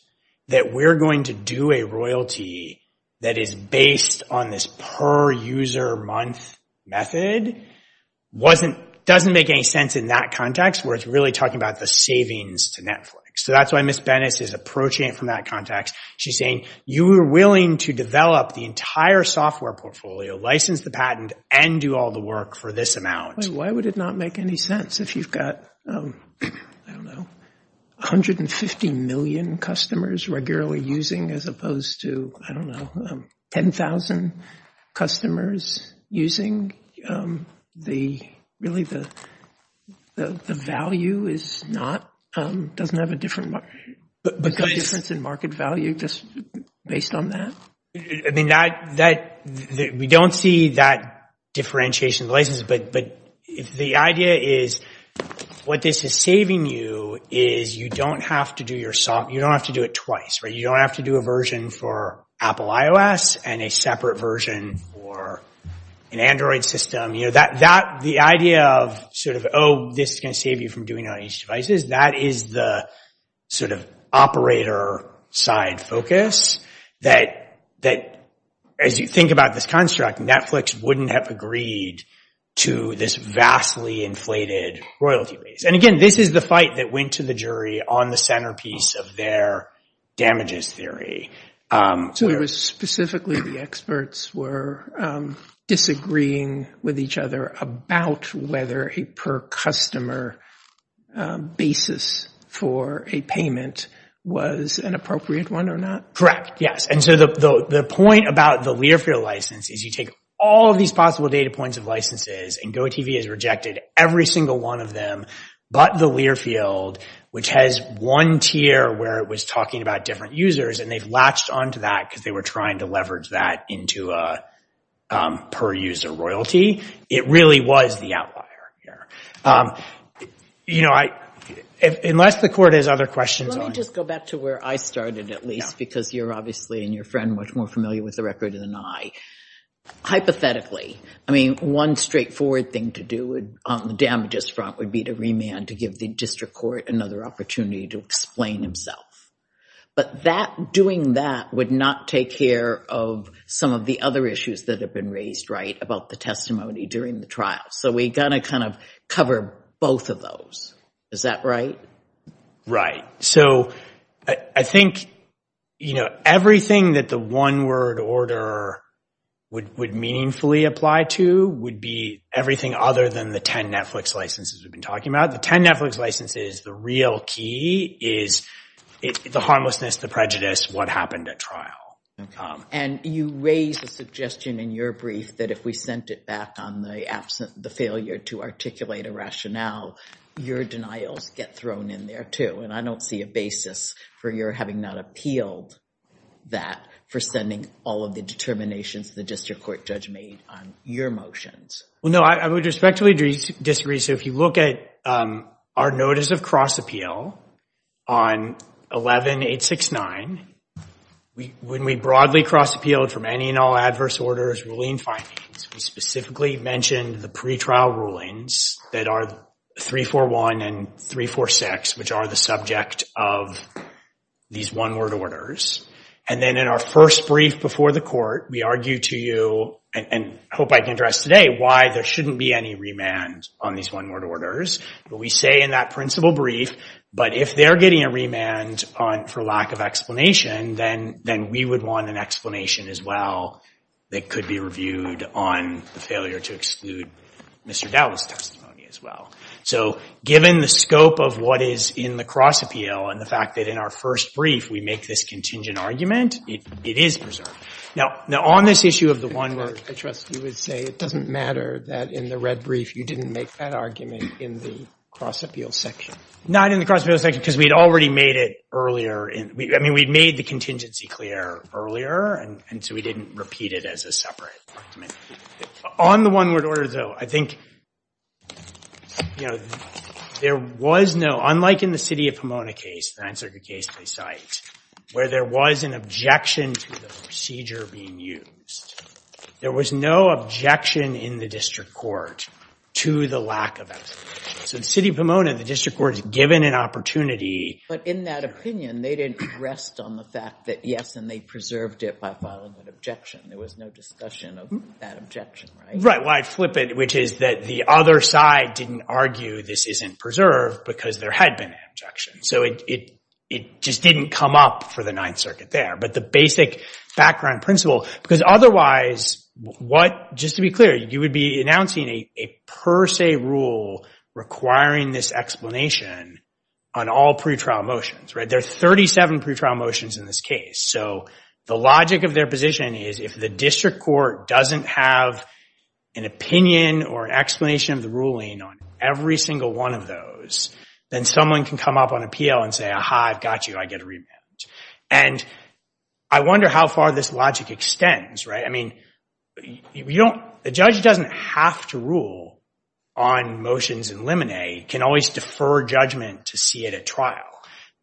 that we're going to do a royalty that is based on this per user month method wasn't doesn't make any sense in that context where it's really talking about the savings to Netflix. So that's why Miss Bennett is approaching it from that context. She's saying you were willing to develop the entire software portfolio, license the patent and do all the work for this amount. Why would it not make any sense if you've got, I don't know, one hundred and fifty million customers regularly using as opposed to, I don't know, ten thousand customers using the really the the value is not doesn't have a different difference in market value just based on that. I mean, that that we don't see that differentiation license. But the idea is what this is saving you is you don't have to do your song. You don't have to do it twice. You don't have to do a version for Apple iOS and a separate version or an Android system that that the idea of sort of, oh, this is going to save you from doing on each devices. That is the sort of operator side focus that that as you think about this construct, Netflix wouldn't have agreed to this vastly inflated royalty. And again, this is the fight that went to the jury on the centerpiece of their damages theory. So it was specifically the experts were disagreeing with each other about whether a per customer basis for a payment was an appropriate one or not. Correct. Yes. And so the point about the Learfield license is you take all of these possible data points of licenses and go TV is rejected every single one of them. But the Learfield, which has one tier where it was talking about different users, and they've latched onto that because they were trying to leverage that into a per user royalty. It really was the outlier here. You know, unless the court has other questions. Let me just go back to where I started, at least, because you're obviously in your friend much more familiar with the record than I. Hypothetically, I mean, one straightforward thing to do it on the damages front would be to remand to give the district court another opportunity to explain themselves. But that doing that would not take care of some of the other issues that have been raised right about the testimony during the trial. So we got to kind of cover both of those. Is that right? Right. So I think, you know, everything that the one word order would would meaningfully apply to would be everything other than the 10 Netflix licenses we've been talking about. The 10 Netflix license is the real key is the harmlessness, the prejudice, what happened at trial. And you raise a suggestion in your brief that if we sent it back on the absence, the failure to articulate a rationale, your denials get thrown in there, too. And I don't see a basis for your having not appealed that for sending all of the determinations the district court judge made on your motions. Well, no, I would respectfully disagree. So if you look at our notice of cross appeal on 11869, when we broadly cross appealed from any and all adverse orders, ruling findings, we specifically mentioned the pretrial rulings that are 341 and 346, which are the subject of these one word orders. And then in our first brief before the court, we argued to you and hope I can address today why there shouldn't be any remand on these one word orders. But we say in that principal brief, but if they are getting a remand for lack of explanation, then we would want an explanation as well that could be reviewed on the failure to exclude Mr. Dowell's testimony as well. So given the scope of what is in the cross appeal and the fact that in our first brief we make this contingent argument, it is preserved. Now, on this issue of the one word, I trust you would say it doesn't matter that in the red brief you didn't make that argument in the cross appeal section. Not in the cross appeal section, because we'd already made it earlier. I mean, we'd made the contingency clear earlier, and so we didn't repeat it as a separate argument. On the one word order, though, I think, you know, there was no, unlike in the city of Pomona case, the answer to the case we cite, where there was an objection to the procedure being used, there was no objection in the district court to the lack of evidence. So the city of Pomona, the district court is given an opportunity. But in that opinion, they didn't rest on the fact that, yes, and they preserved it by filing an objection. There was no discussion of that objection, right? Right. Well, I'd flip it, which is that the other side didn't argue this isn't preserved because there had been an objection. So it just didn't come up for the Ninth Circuit there. But the basic background principle, because otherwise, what, just to be clear, you would be announcing a per se rule requiring this explanation on all pretrial motions, right? There are 37 pretrial motions in this case. So the logic of their position is if the district court doesn't have an opinion or an explanation of the ruling on every single one of those, then someone can come up on appeal and say, aha, I've got you. I get a remand. And I wonder how far this logic extends, right? I mean, the judge doesn't have to rule on motions in limine. It can always defer judgment to see it at trial.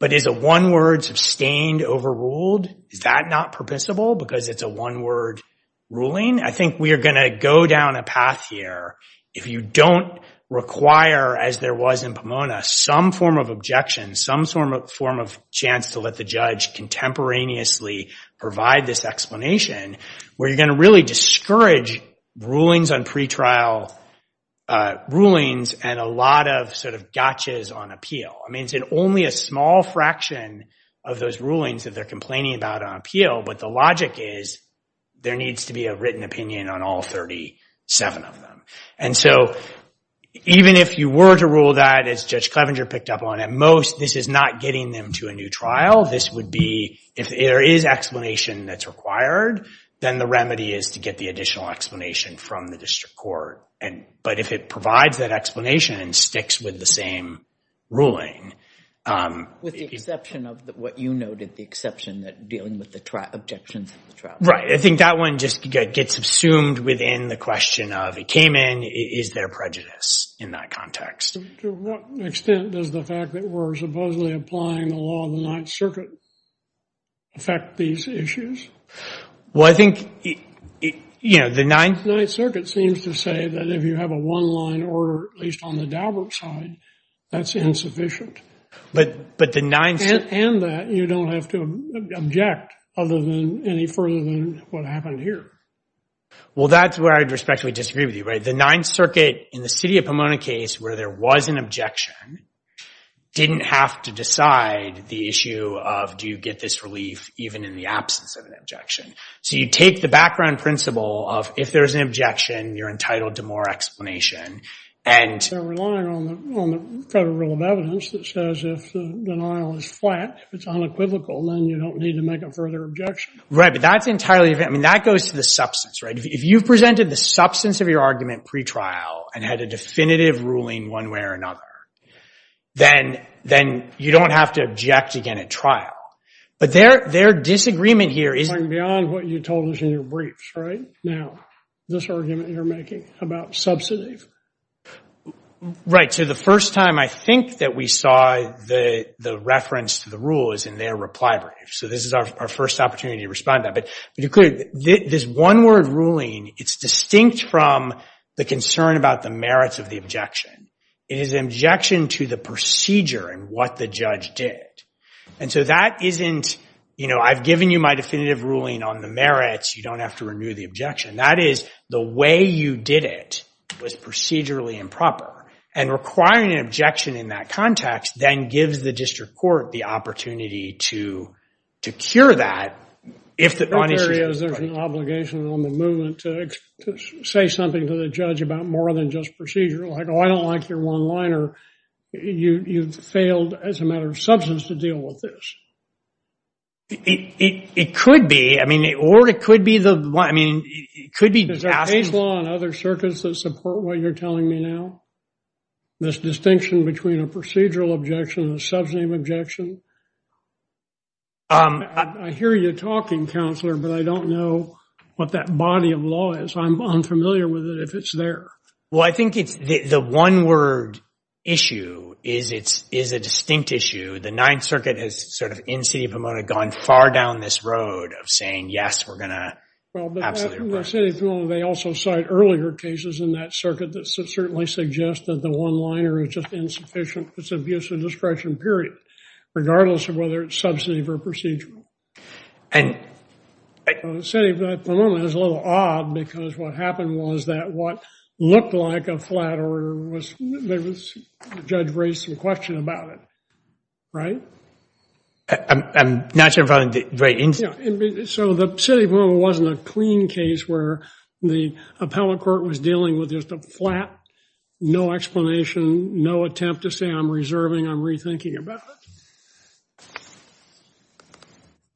But is a one-word, sustained, overruled, is that not permissible because it's a one-word ruling? I think we are going to go down a path here. If you don't require, as there was in Pomona, some form of objection, some form of chance to let the judge contemporaneously provide this explanation, where you're going to really discourage rulings on pretrial rulings and a lot of sort of gotchas on appeal. I mean, it's only a small fraction of those rulings that they're complaining about on But the logic is there needs to be a written opinion on all 37 of them. And so even if you were to rule that, as Judge Clevenger picked up on, at most, this is not getting them to a new trial. This would be, if there is explanation that's required, then the remedy is to get the additional explanation from the district court. But if it provides that explanation and sticks with the same ruling. With the exception of what you noted, the exception that dealing with the objection to the trial. Right. I think that one just gets assumed within the question of it came in. Is there prejudice in that context? To what extent does the fact that we're supposedly applying the law of the Ninth Circuit affect these issues? Well, I think the Ninth Circuit seems to say that if you have a one-line order, at least on the Daubert side, that's insufficient. But the Ninth and that, you don't have to object other than any further than what happened here. Well, that's where I especially disagree with you, right? The Ninth Circuit, in the city of Pomona case, where there was an objection, didn't have to decide the issue of, do you get this relief even in the absence of an objection? So you take the background principle of, if there's an objection, you're entitled to more explanation. They're relying on the federal rule of evidence that says, if the denial is flat, if it's unequivocal, then you don't need to make a further objection. Right. But that's entirely different. I mean, that goes to the substance, right? If you presented the substance of your argument pre-trial and had a definitive ruling one way or another, then you don't have to object again at trial. But their disagreement here is beyond what you told us in your briefs, right? Now, this argument you're making about subsidies. Right. So the first time I think that we saw the reference to the rule is in their reply brief. So this is our first opportunity to respond to that. This one word ruling, it's distinct from the concern about the merits of the objection. It is an objection to the procedure and what the judge did. And so that isn't, you know, I've given you my definitive ruling on the merits. You don't have to renew the objection. That is, the way you did it was procedurally improper. And requiring an objection in that context then gives the district court the opportunity to secure that. Is there an obligation on the movement to say something to the judge about more than just procedure? Like, oh, I don't like your one-liner. You've failed as a matter of substance to deal with this. It could be. I mean, or it could be the one. I mean, it could be. Is there a law in other circuits that support what you're telling me now? This distinction between a procedural objection and a subject objection? I hear you talking, Counselor, but I don't know what that body of law is. I'm familiar with it, if it's there. Well, I think the one word issue is a distinct issue. The Ninth Circuit has sort of, in the city of Pomona, gone far down this road of saying, yes, we're going to absolutely repeal it. In the city of Pomona, they also cite earlier cases in that circuit that certainly suggest that the one-liner is just insufficient because of use of discretion, period, regardless of whether it's substantive or procedural. The city of Pomona is a little odd because what happened was that what looked like a flat order, the judge raised some question about it, right? I'm not sure about the rating. So the city of Pomona wasn't a clean case where the appellate court was dealing with just a flat, no explanation, no attempt to say, I'm reserving, I'm rethinking about it.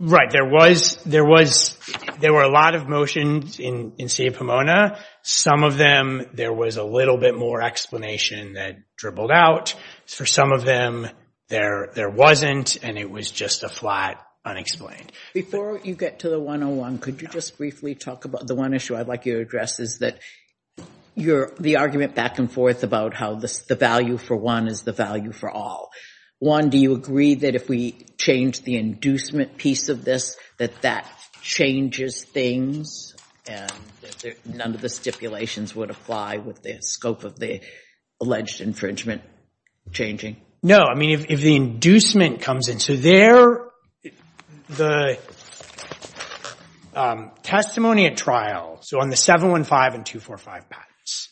Right, there were a lot of motions in the city of Pomona. Some of them, there was a little bit more explanation that dribbled out. For some of them, there wasn't, and it was just a flat unexplained. Before you get to the 101, could you just briefly talk about the one issue I'd like you to address is that the argument back and forth about how the value for one is the value for all. One, do you agree that if we change the inducement piece of this, that that changes things and that none of the stipulations would apply with the scope of the alleged infringement changing? No, I mean, if the inducement comes in, so there, the testimony at trial, so on the 715 and 245 patents,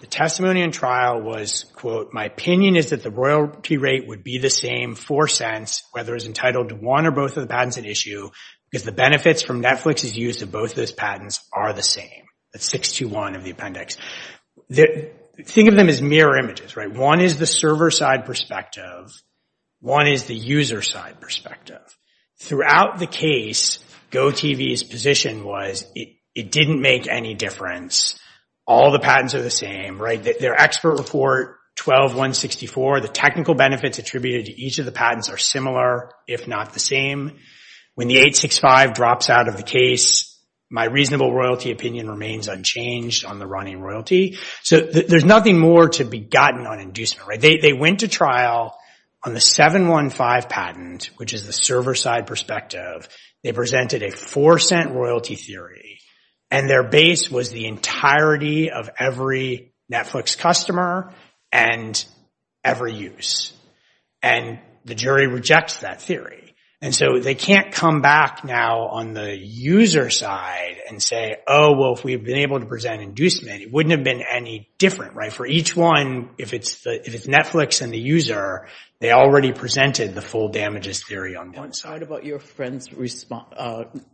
the testimony in trial was, quote, my opinion is that the royalty rate would be the same, four cents, whether it's entitled to one or both of the patents at issue, if the benefits from Netflix's use of both of those patents are the same, the 621 of the appendix. Think of them as mirror images, right? One is the server side perspective. One is the user side perspective. Throughout the case, GOTV's position was it didn't make any difference. All the patents are the same, right? Their expert report, 12164, the technical benefits attributed to each of the patents are similar, if not the same. When the 865 drops out of the case, my reasonable royalty opinion remains unchanged on the running royalty. So there's nothing more to be gotten on inducement, right? They went to trial on the 715 patent, which is the server side perspective. They presented a four cent royalty theory, and their base was the entirety of every Netflix customer and every use. And the jury rejects that theory. And so they can't come back now on the user side and say, oh, well, if we've been able to present inducement, it wouldn't have been any different, right? For each one, if it's Netflix and the user, they already presented the full damages theory on Netflix. One side about your friend's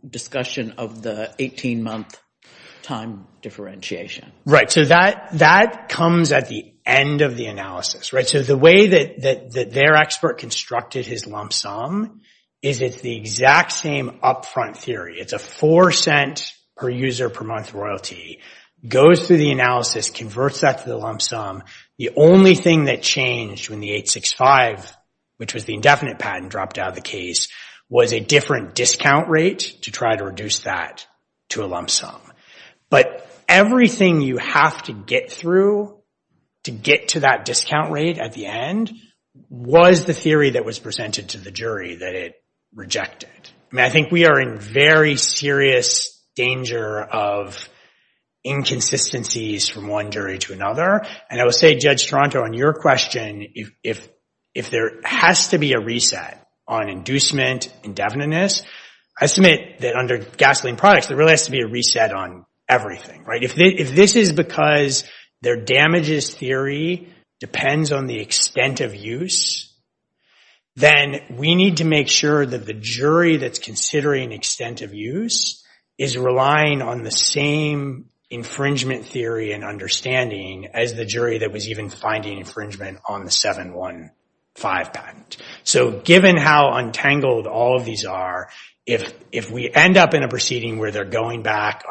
discussion of the 18 month time differentiation. Right. So that comes at the end of the analysis, right? So the way that their expert constructed his lump sum is it's the exact same upfront theory. It's a four cents per user per month royalty, goes through the analysis, converts that to the lump sum. The only thing that changed when the 865, which was the indefinite patent dropped out of the case, was a different discount rate to try to reduce that to a lump sum. But everything you have to get through to get to that discount rate at the end was the theory that was presented to the jury that it rejected. I mean, I think we are in very serious danger of inconsistencies from one jury to another. And I would say, Judge Stronto, on your question, if there has to be a reset on inducement indefiniteness, I submit that under gasoline products, there really has to be a reset on everything, right? If this is because their damages theory depends on the extent of use, then we need to make sure that the jury that's considering extent of use is relying on the same infringement theory and understanding as the jury that was even finding infringement on the 715 patent. So given how untangled all of these are, if we end up in a proceeding where they're going back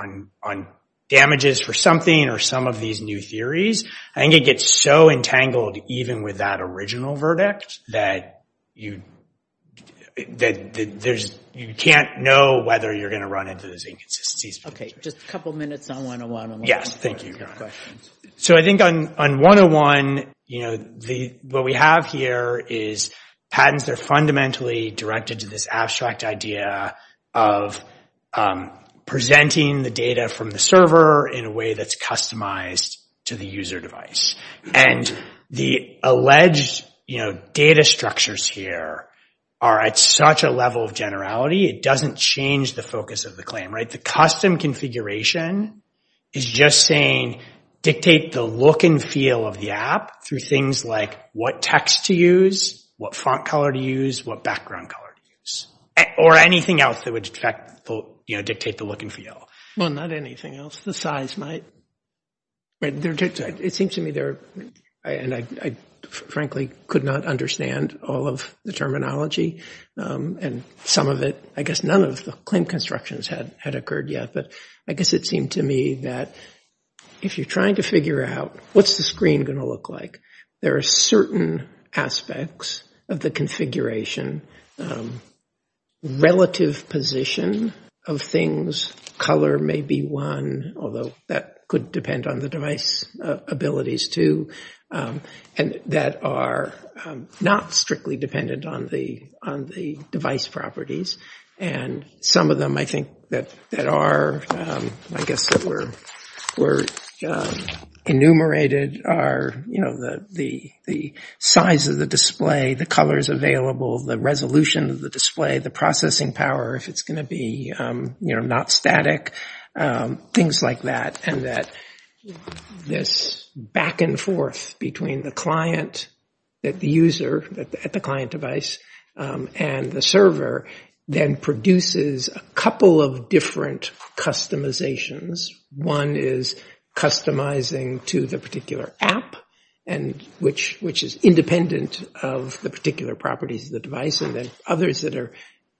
on damages for something or some of these new theories, I think it gets so entangled even with that original verdict that you can't know whether you're going to run into those inconsistencies. OK. Just a couple of minutes on 101. Yes. Thank you. So I think on 101, what we have here is patents are fundamentally directed to this abstract idea of presenting the data from the server in a way that's customized to the user device. And the alleged data structures here are at such a level of generality, it doesn't change the focus of the claim, right? The custom configuration is just saying dictate the look and feel of the app through things like what text to use, what font color to use, what background color to use, or anything else that would dictate the look and feel. Well, not anything else. The size might. It seems to me there are, and I frankly could not understand all of the terminology and some of it, I guess none of the claim constructions had occurred yet, but I guess it seemed to me that if you're trying to figure out what's the screen going to look like, there are certain aspects of the configuration, relative position of things, color may be one, although that could depend on the device abilities too, and that are not strictly dependent on the device properties. And some of them I think that are, I guess that were enumerated are the size of the display, the colors available, the resolution of the display, the processing power, if it's going to be not static, things like that. And that this back and forth between the client, the user at the client device, and the server then produces a couple of different customizations. One is customizing to the particular app, which is independent of the particular properties of the device, and then others that are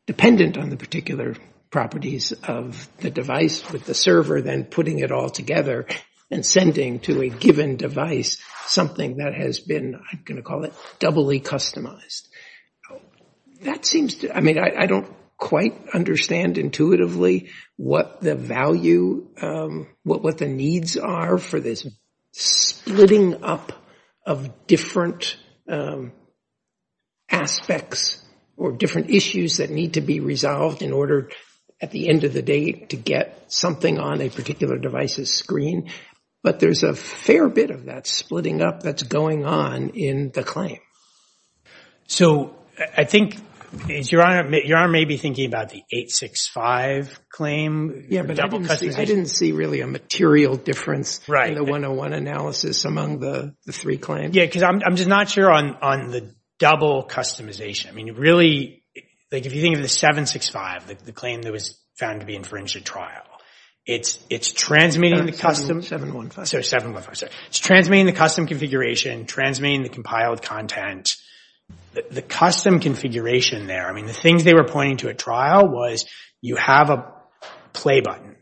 dependent on the particular properties of the device with the server, then putting it all together and sending to a given device something that has been, I'm going to call it doubly customized. That seems, I mean, I don't quite understand intuitively what the value, what the needs are for this splitting up of different aspects or different issues that need to be resolved in order, at the end of the day, to get something on a particular device's screen. But there's a fair bit of that splitting up that's going on in the claim. So I think, Your Honor may be thinking about the 865 claim. I didn't see really a material difference in the 101 analysis among the three claims. Yeah, because I'm just not sure on the double customization. I mean, really, if you think of the 765, the claim that was found to be infringed at trial, it's transmitting the custom configuration, transmitting the compiled content, the custom configuration there. I mean, the things they were pointing to at trial was you have a play button,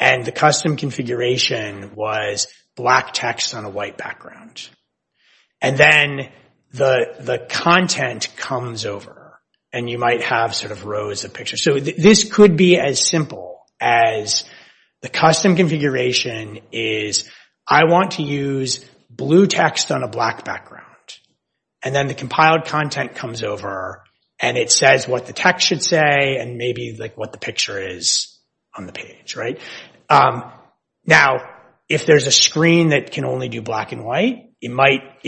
and the custom configuration was black text on a white background. And then the content comes over, and you might have sort of rows of pictures. So this could be as simple as the custom configuration is, I want to use blue text on a black background. And then the compiled content comes over, and it says what the text should say and maybe what the picture is on the page. Now, if there's a screen that can only do black and white, it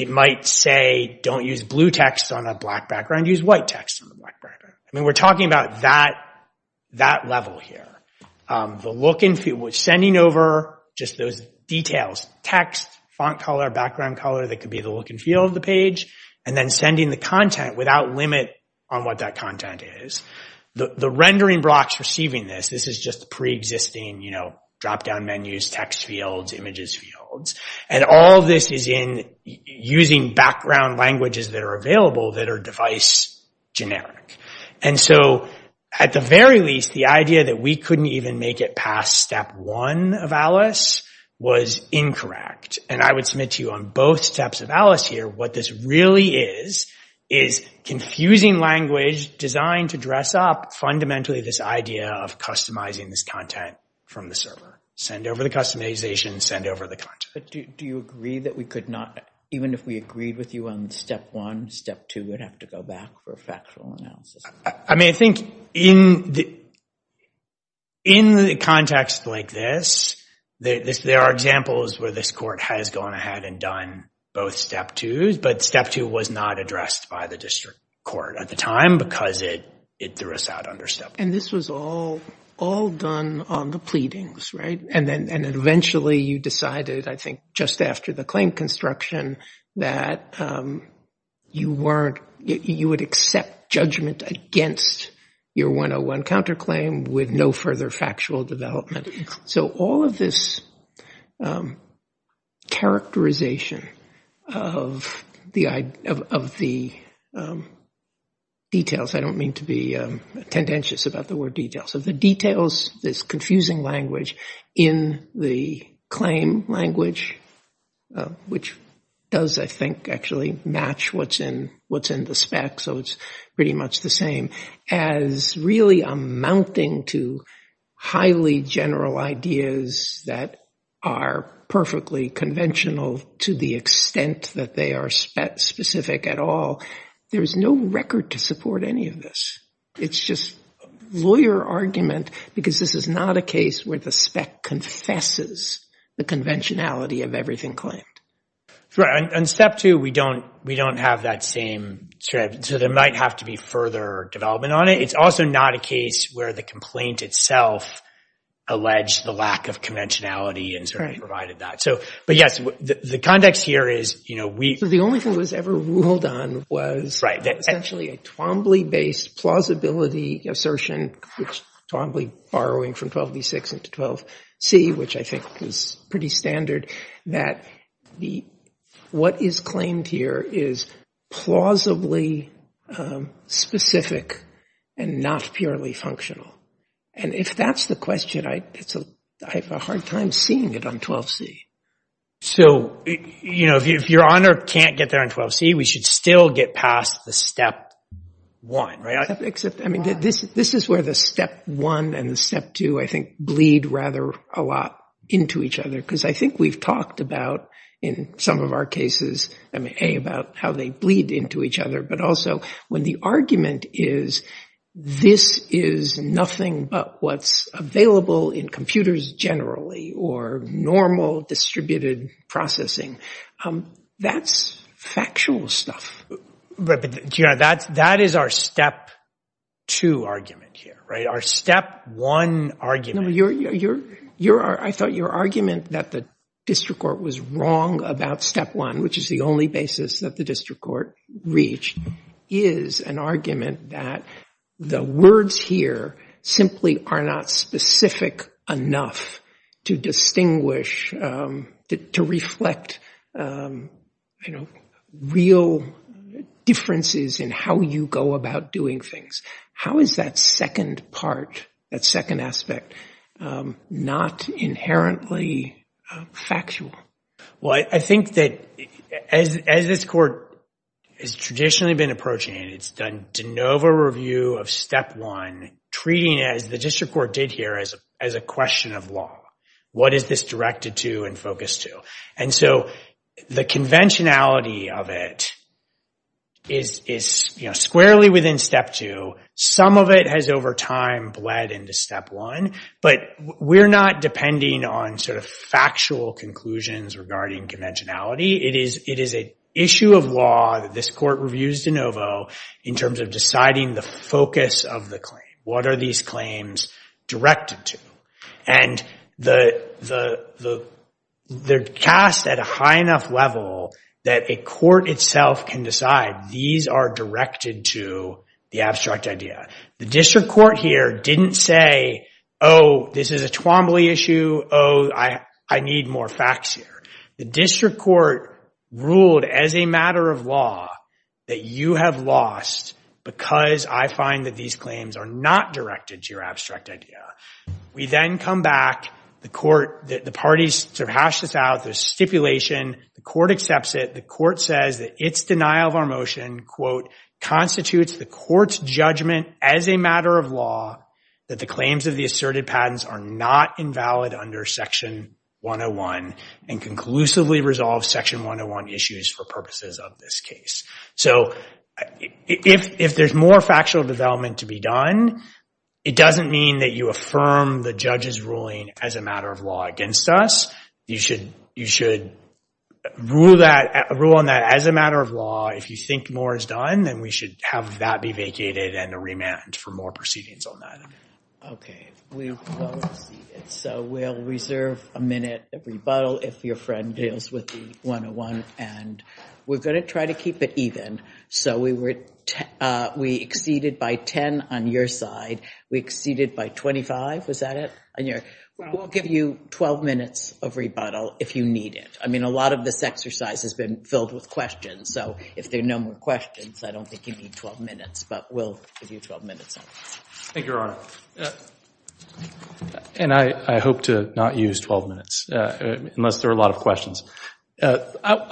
might say, don't use blue text on a black background, use white text on a black background. I mean, we're talking about that level here. The look and feel was sending over just those details, text, font color, background color that could be the look and feel of the page, and then sending the content without limit on what that content is. The rendering blocks receiving this, this is just preexisting, you know, drop-down menus, text fields, images fields. And all of this is in using background languages that are available that are device generic. And so at the very least, the idea that we couldn't even make it past step one of Alice was incorrect. And I would submit to you on both steps of Alice here, what this really is, is confusing language designed to dress up fundamentally this idea of customizing this content from the server. Send over the customization, send over the content. But do you agree that we could not, even if we agreed with you on step one, step two would have to go back for factual analysis? I mean, I think in the context like this, there are examples where this court has gone ahead and done both step twos, but step two was not addressed by the district court at the time because it threw us out under step two. And this was all done on the pleadings, right? And then eventually you decided, I think, just after the claim construction, that you would accept judgment against your 101 counterclaim with no further factual development. So all of this characterization of the details, I don't mean to be tendentious about the word details, of the details, this confusing language in the claim language, which does, I think, actually match what's in the spec. So it's pretty much the same as really amounting to highly general ideas that are perfectly conventional to the extent that they are specific at all. There is no record to support any of this. It's just lawyer argument because this is not a case where the spec confesses the conventionality of everything claimed. And step two, we don't have that same strategy. So there might have to be further development on it. It's also not a case where the complaint itself alleged the lack of conventionality and provided that. But yes, the context here is we- The only thing that was ever ruled on was essentially a Twombly-based plausibility assertion, Twombly borrowing from 12b6 into 12c, which I think is pretty standard, that what is claimed here is plausibly specific and not purely functional. And if that's the question, I have a hard time seeing it on 12c. So if your honor can't get there on 12c, we should still get past the step one, right? I mean, this is where the step one and the step two, I think, bleed rather a lot into each other because I think we've talked about, in some of our cases, about how they bleed into each other. But also when the argument is this is nothing but what's available in computers generally or normal distributed processing. That's factual stuff. That is our step two argument here, right? Our step one argument. I thought your argument that the district court was wrong about step one, which is the only basis that the district court reached, is an argument that the words here simply are not specific enough to distinguish, to reflect real differences in how you go about doing things. How is that second part, that second aspect, not inherently factual? Well, I think that as this court has traditionally been approaching it, it's done de novo review of step one, treating it, as the district court did here, as a question of law. What is this directed to and focused to? And so the conventionality of it is squarely within step two. Some of it has, over time, bled into step one. But we're not depending on sort of factual conclusions regarding conventionality. It is an issue of law that this court reviews de novo in terms of deciding the focus of the claim. What are these claims directed to? And they're cast at a high enough level that a court itself can decide these are directed to the abstract idea. The district court here didn't say, oh, this is a Twombly issue. Oh, I need more facts here. The district court ruled, as a matter of law, that you have lost because I find that these claims are not directed to your abstract idea. We then come back. The parties sort of hash this out. There's stipulation. The court accepts it. The court says that its denial of our motion, quote, constitutes the court's judgment as a matter of law that the claims of the asserted patents are not invalid under section 101 and conclusively resolve section 101 issues for purposes of this case. So if there's more factual development to be done, it doesn't mean that you affirm the judge's ruling as a matter of law against us. You should rule on that as a matter of law. If you think more is done, then we should have that be vacated and a remand for more proceedings on that. OK. So we'll reserve a minute, a rebuttal, if your friend deals with the 101. And we're going to try to keep it even. So we exceeded by 10 on your side. We exceeded by 25. Was that it? We'll give you 12 minutes of rebuttal if you need it. I mean, a lot of this exercise has been filled with questions. So if there are no more questions, I don't think you need 12 minutes. But we'll give you 12 minutes. Thank you, Your Honor. And I hope to not use 12 minutes unless there are a lot of questions. I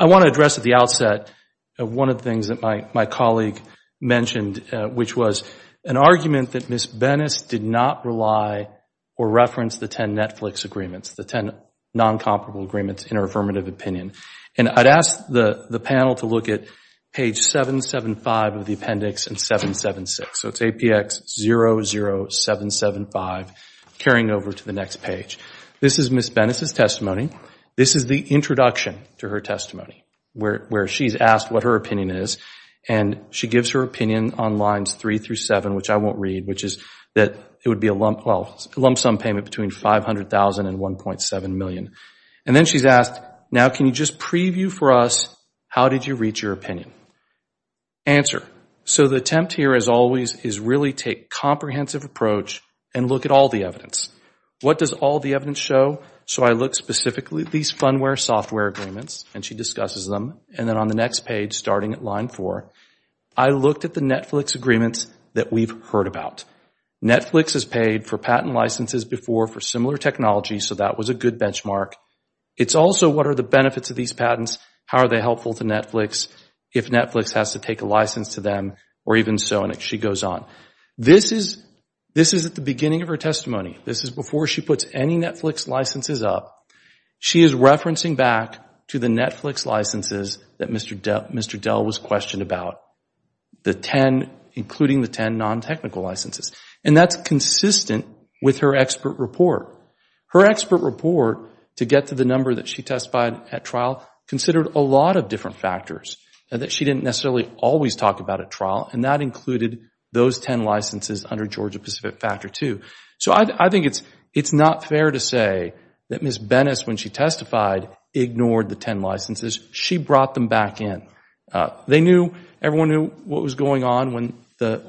want to address at the outset one of the things that my colleague mentioned, which was an argument that Ms. Bennis did not rely or reference the 10 Netflix agreements, the 10 non-comparable agreements in her affirmative opinion. And I'd ask the panel to look at page 775 of the appendix and 776. So it's APX 00775, carrying over to the next page. This is Ms. Bennis' testimony. This is the introduction to her testimony, where she's asked what her opinion is. And she gives her opinion on lines 3 through 7, which I won't read, which is that it would be a lump sum payment between $500,000 and $1.7 million. And then she's asked, now, can you just preview for us how did you reach your opinion? Answer. So the attempt here, as always, is really take comprehensive approach and look at all the evidence. What does all the evidence show? So I look specifically at these fundware software agreements, and she discusses them. And then on the next page, starting at line 4, I looked at the Netflix agreements that we've heard about. Netflix has paid for patent licenses before for similar technology, so that was a good benchmark. It's also what are the benefits of these patents, how are they helpful to Netflix, if Netflix has to take a license to them, or even so, and she goes on. This is at the beginning of her testimony. This is before she puts any Netflix licenses up. She is referencing back to the Netflix licenses that Mr. Dell was questioned about, including the 10 non-technical licenses. And that's consistent with her expert report. Her expert report, to get to the number that she testified at trial, considered a lot of different factors, and that she didn't necessarily always talk about at trial, and that included those 10 licenses under Georgia-Pacific Factor 2. So I think it's not fair to say that Ms. Bennis, when she testified, ignored the 10 licenses. She brought them back in. They knew, everyone knew what was going on when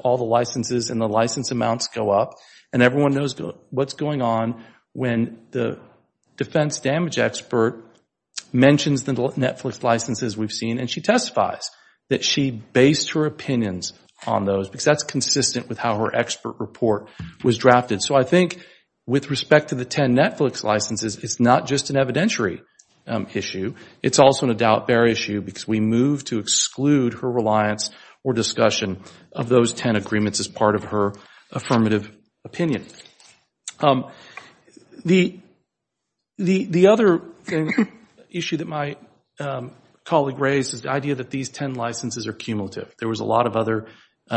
all the licenses and the license amounts go up, and everyone knows what's going on when the defense damage expert mentions the Netflix licenses we've seen, and she testifies that she based her opinions on those, because that's consistent with how her expert report was drafted. So I think, with respect to the 10 Netflix licenses, it's not just an evidentiary issue. It's also an adult bear issue, because we move to exclude her reliance or discussion of those 10 agreements as part of her affirmative opinion. The other issue that my colleague raised is the idea that these 10 licenses are cumulative. There was a lot of other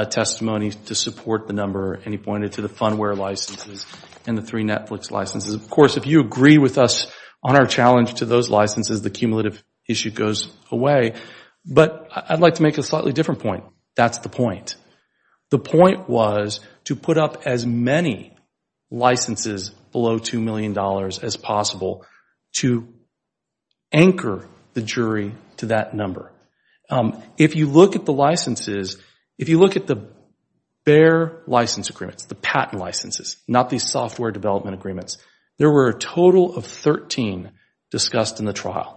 testimony to support the number, and he pointed to the Funware licenses and the three Netflix licenses. Of course, if you agree with us on our challenge to those licenses, the cumulative issue goes away. But I'd like to make a slightly different point. That's the point. The point was to put up as many licenses below $2 million as possible to anchor the jury to that number. If you look at the licenses, if you look at the bear license agreements, the patent licenses, not these software development agreements, there were a total of 13 discussed in the trial.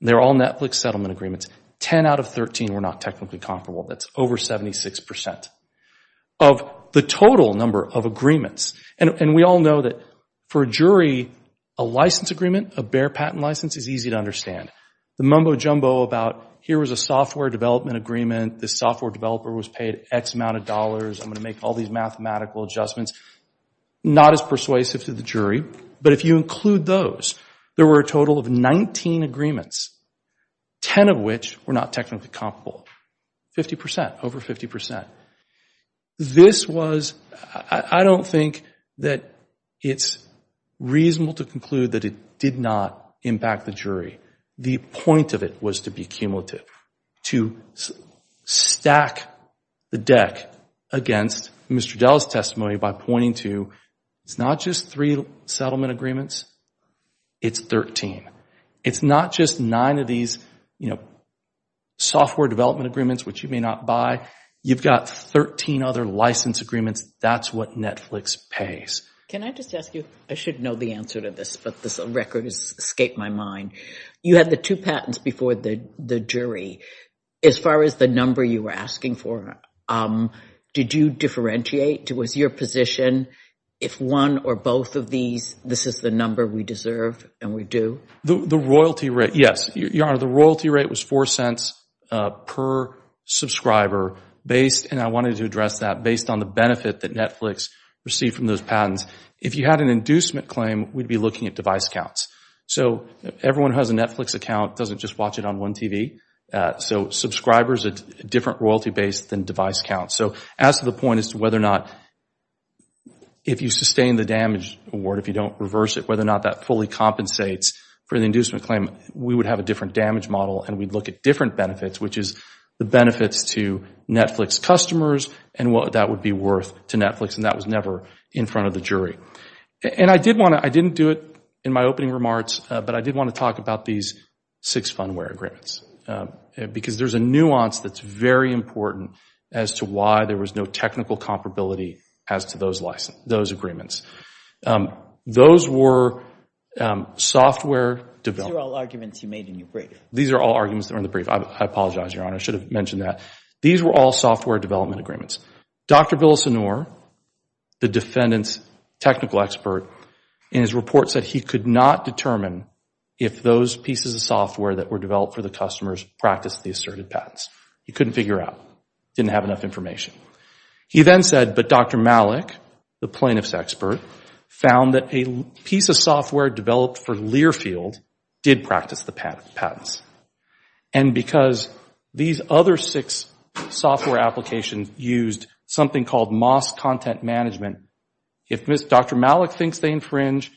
They're all Netflix settlement agreements. 10 out of 13 were not technically comparable. That's over 76% of the total number of agreements. And we all know that, for a jury, a license agreement, a bear patent license, is easy to understand. The mumbo jumbo about, here is a software development agreement, this software developer was paid X amount of dollars, I'm going to make all these mathematical adjustments, not as persuasive to the jury. But if you include those, there were a total of 19 agreements, 10 of which were not technically comparable. 50%, over 50%. This was, I don't think that it's reasonable to conclude that it did not impact the jury. The point of it was to be cumulative, to stack the deck against Mr. Dell's testimony by pointing to, it's not just three settlement agreements, it's 13. It's not just nine of these software development agreements, which you may not buy, you've got 13 other license agreements, that's what Netflix pays. Can I just ask you, I should know the answer to this, but this record has escaped my mind. You had the two patents before the jury. As far as the number you were asking for, did you differentiate? Was your position, if one or both of these, this is the number we deserve and we do? The royalty rate, yes. The royalty rate was $0.04 per subscriber. And I wanted to address that, based on the benefit that Netflix received from those patents. If you had an inducement claim, we'd be looking at device counts. Everyone who has a Netflix account doesn't just watch it on one TV. Subscribers are a different royalty base than device counts. As to the point as to whether or not, if you sustain the damage award, if you don't reverse it, whether or not that fully compensates for the inducement claim, we would have a different damage model and we'd look at different benefits, which is the benefit to Netflix customers and what that would be worth to Netflix. And that was never in front of the jury. I didn't do it in my opening remarks, but I did want to talk about these six fundware agreements. Because there's a nuance that's very important as to why there was no technical comparability as to those agreements. Those were software development. These are all arguments you made in your brief. These are all arguments that were in the brief. I apologize, Your Honor. I should have mentioned that. These were all software development agreements. Dr. Villasenor, the defendant's technical expert, in his report said he could not determine if those pieces of software that were developed for the customers practiced the assertive patents. He couldn't figure out. He didn't have enough information. He then said, but Dr. Malik, the plaintiff's expert, found that a piece of software developed for Learfield did practice the patents. And because these other six software applications used something called mass content management, if Dr. Malik thinks they infringe,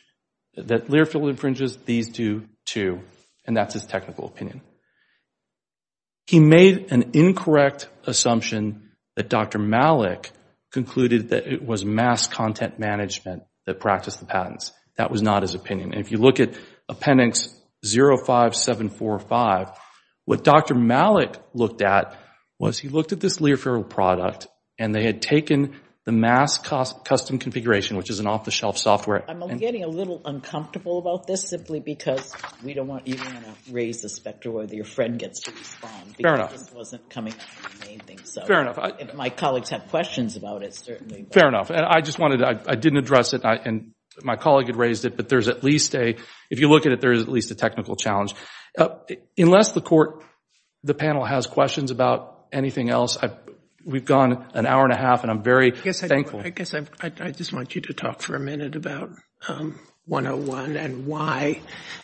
that Learfield infringes, these do too. And that's his technical opinion. He made an incorrect assumption that Dr. Malik concluded that it was mass content management that practiced the patents. That was not his opinion. And if you look at appendix 05745, what Dr. Malik looked at was he looked at this Learfield product, and they had taken the mass custom configuration, which is an off-the-shelf software. I'm getting a little uncomfortable about this simply because we don't want you to raise the specter where your friend gets it from. Fair enough. Because it wasn't coming from anything. Fair enough. My colleagues have questions about it, certainly. Fair enough. I just wanted to, I didn't address it. And my colleague had raised it, but there's at least a, if you look at it, there's at least a technical challenge. Unless the panel has questions about anything else, we've gone an hour and a half, and I'm very thankful. I guess I just want you to talk for a minute about 101 and why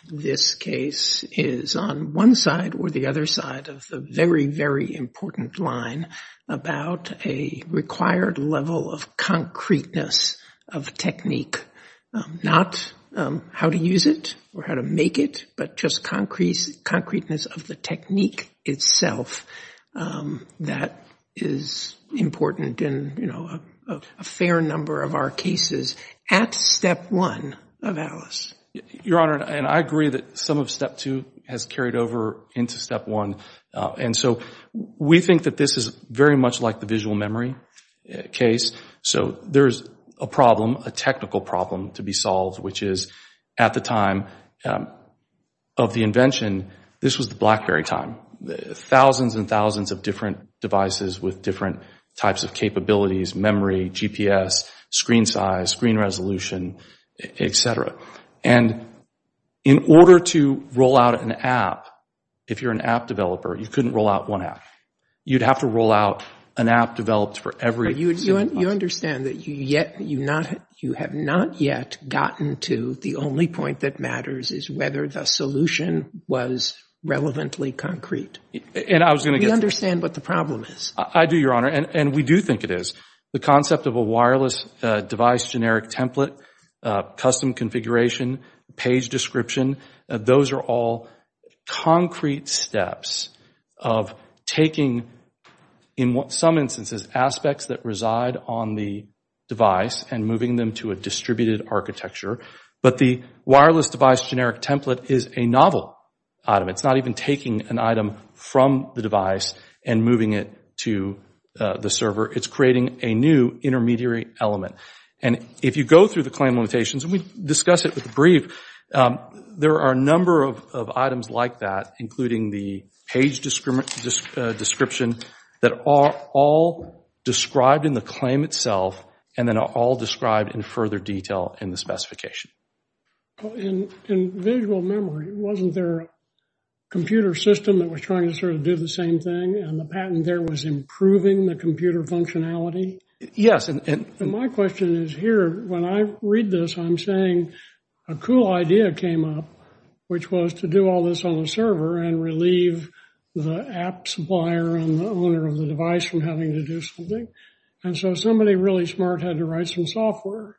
this case is on one side or the other side of the very, very important line about a required level of concreteness of technique. Not how to use it or how to make it, but just concreteness of the technique itself that is important in a fair number of our cases at step one of Atlas. Your Honor, and I agree that some of step two has carried over into step one. And so we think that this is very much like the visual memory case. So there's a problem, a technical problem to be solved, which is at the time of the invention, this was the Blackberry time. Thousands and thousands of different devices with different types of capabilities, memory, GPS, screen size, screen resolution, et cetera. And in order to roll out an app, if you're an app developer, you couldn't roll out one app. You'd have to roll out an app developed for every single one. You understand that you have not yet gotten to the only point that matters is whether the solution was relevantly concrete. You understand what the problem is. I do, Your Honor. And we do think it is. The concept of a wireless device generic template, custom configuration, page description, those are all concrete steps of taking, in some instances, aspects that reside on the device and moving them to a distributed architecture. But the wireless device generic template is a novel item. It's not even taking an item from the device and moving it to the server. It's creating a new intermediary element. And if you go through the claim limitations, and we discuss it with the brief, there are a number of items like that, including the page description, that are all described in the claim itself and then are all described in further detail in the specification. In visual memory, wasn't there a computer system that was trying to do the same thing and the patent there was improving the computer functionality? Yes. My question is here, when I read this, I'm saying a cool idea came up, which was to do all this on the server and relieve the app supplier and the owner of the device from having to do something. And so somebody really smart had to write some software.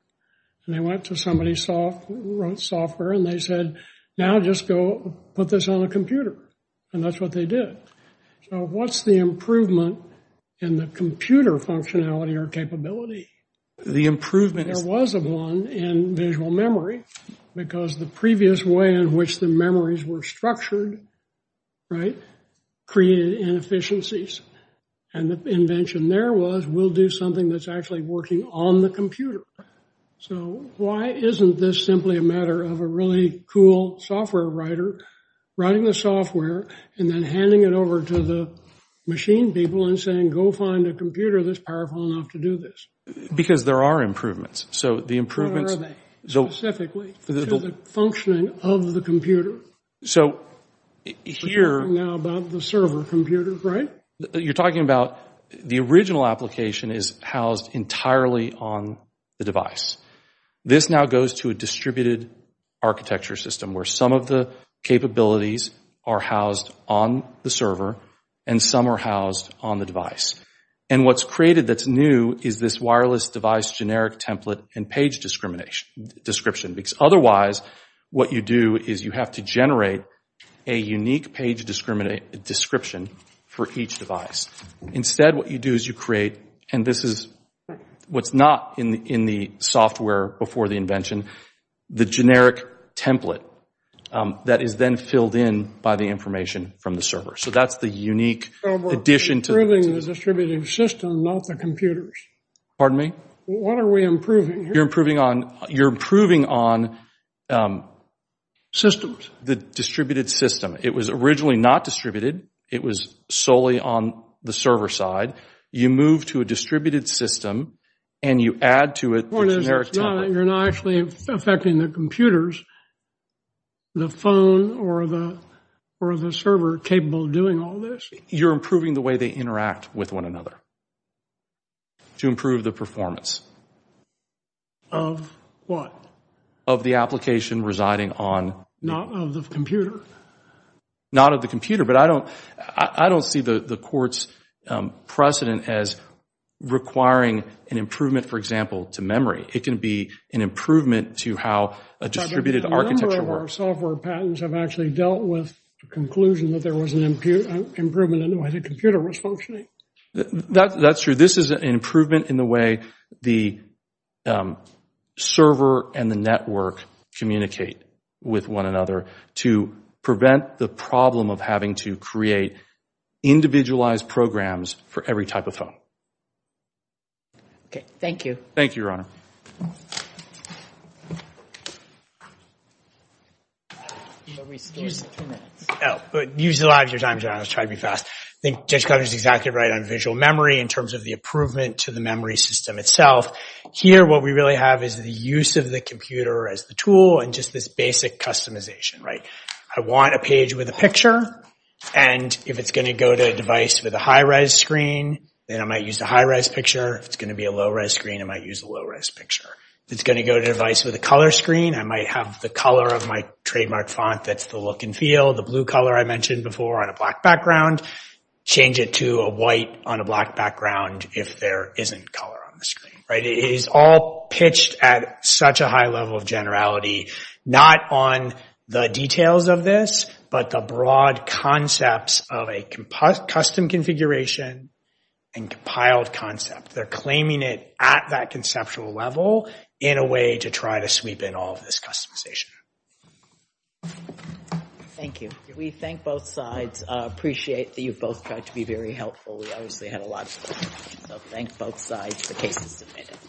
And they went to somebody who wrote software. And they said, now just go put this on the computer. And that's what they did. So what's the improvement in the computer functionality or capability? The improvement, there was one in visual memory because the previous way in which the memories were structured created inefficiencies. And the invention there was, we'll do something that's actually working on the computer. So why isn't this simply a matter of a really cool software writer writing the software and then handing it over to the machine people and saying, go find a computer that's Because there are improvements. So the improvements. Specifically to the functioning of the computer. So here. Now about the server computers, right? You're talking about the original application is housed entirely on the device. This now goes to a distributed architecture system where some of the capabilities are housed on the server and some are housed on the device. And what's created that's new is this wireless device generic template and page description. Because otherwise, what you do is you have to generate a unique page description for each device. Instead, what you do is you create, and this is what's not in the software before the invention, the generic template that is then filled in by the information from the server. So that's the unique addition to the So we're improving the distributed system, not the computers. Pardon me? What are we improving here? You're improving on systems. The distributed system. It was originally not distributed. It was solely on the server side. You move to a distributed system and you add to it the generic template. You're not actually affecting the computers. The phone or the server capable of doing all this? You're improving the way they interact with one another to improve the performance. Of what? Of the application residing on... Not of the computer. Not of the computer. But I don't see the court's precedent as requiring an improvement, for example, to memory. It can be an improvement to how a distributed architecture works. A number of our software patents have actually dealt with the conclusion that there was an improvement in the way the computer was functioning. That's true. This is an improvement in the way the server and the network communicate with one another to prevent the problem of having to create individualized programs for every type of phone. Thank you. Thank you, Ron. Use your time, John. I was trying to be fast. I think Judge Cotter is exactly right on visual memory in terms of the improvement to the memory system itself. Here, what we really have is the use of the computer as the tool and just this basic customization. I want a page with a picture. If it's going to go to a device with a high-res screen, then I might use a high-res picture. If it's going to be a low-res screen, I might use a low-res picture. If it's going to go to a device with a color screen, I might have the color of my trademark font that's the look and feel, the blue color I mentioned before on a black background, change it to a white on a black background if there isn't color on the screen. It is all pitched at such a high level of generality, not on the details of this, but the broad concepts of a custom configuration and compiled concept. They're claiming it at that conceptual level in a way to try to sweep in all of this customization. Thank you. We thank both sides. I appreciate that you both tried to be very helpful. We obviously had a lot of fun. So thanks both sides for taking the time.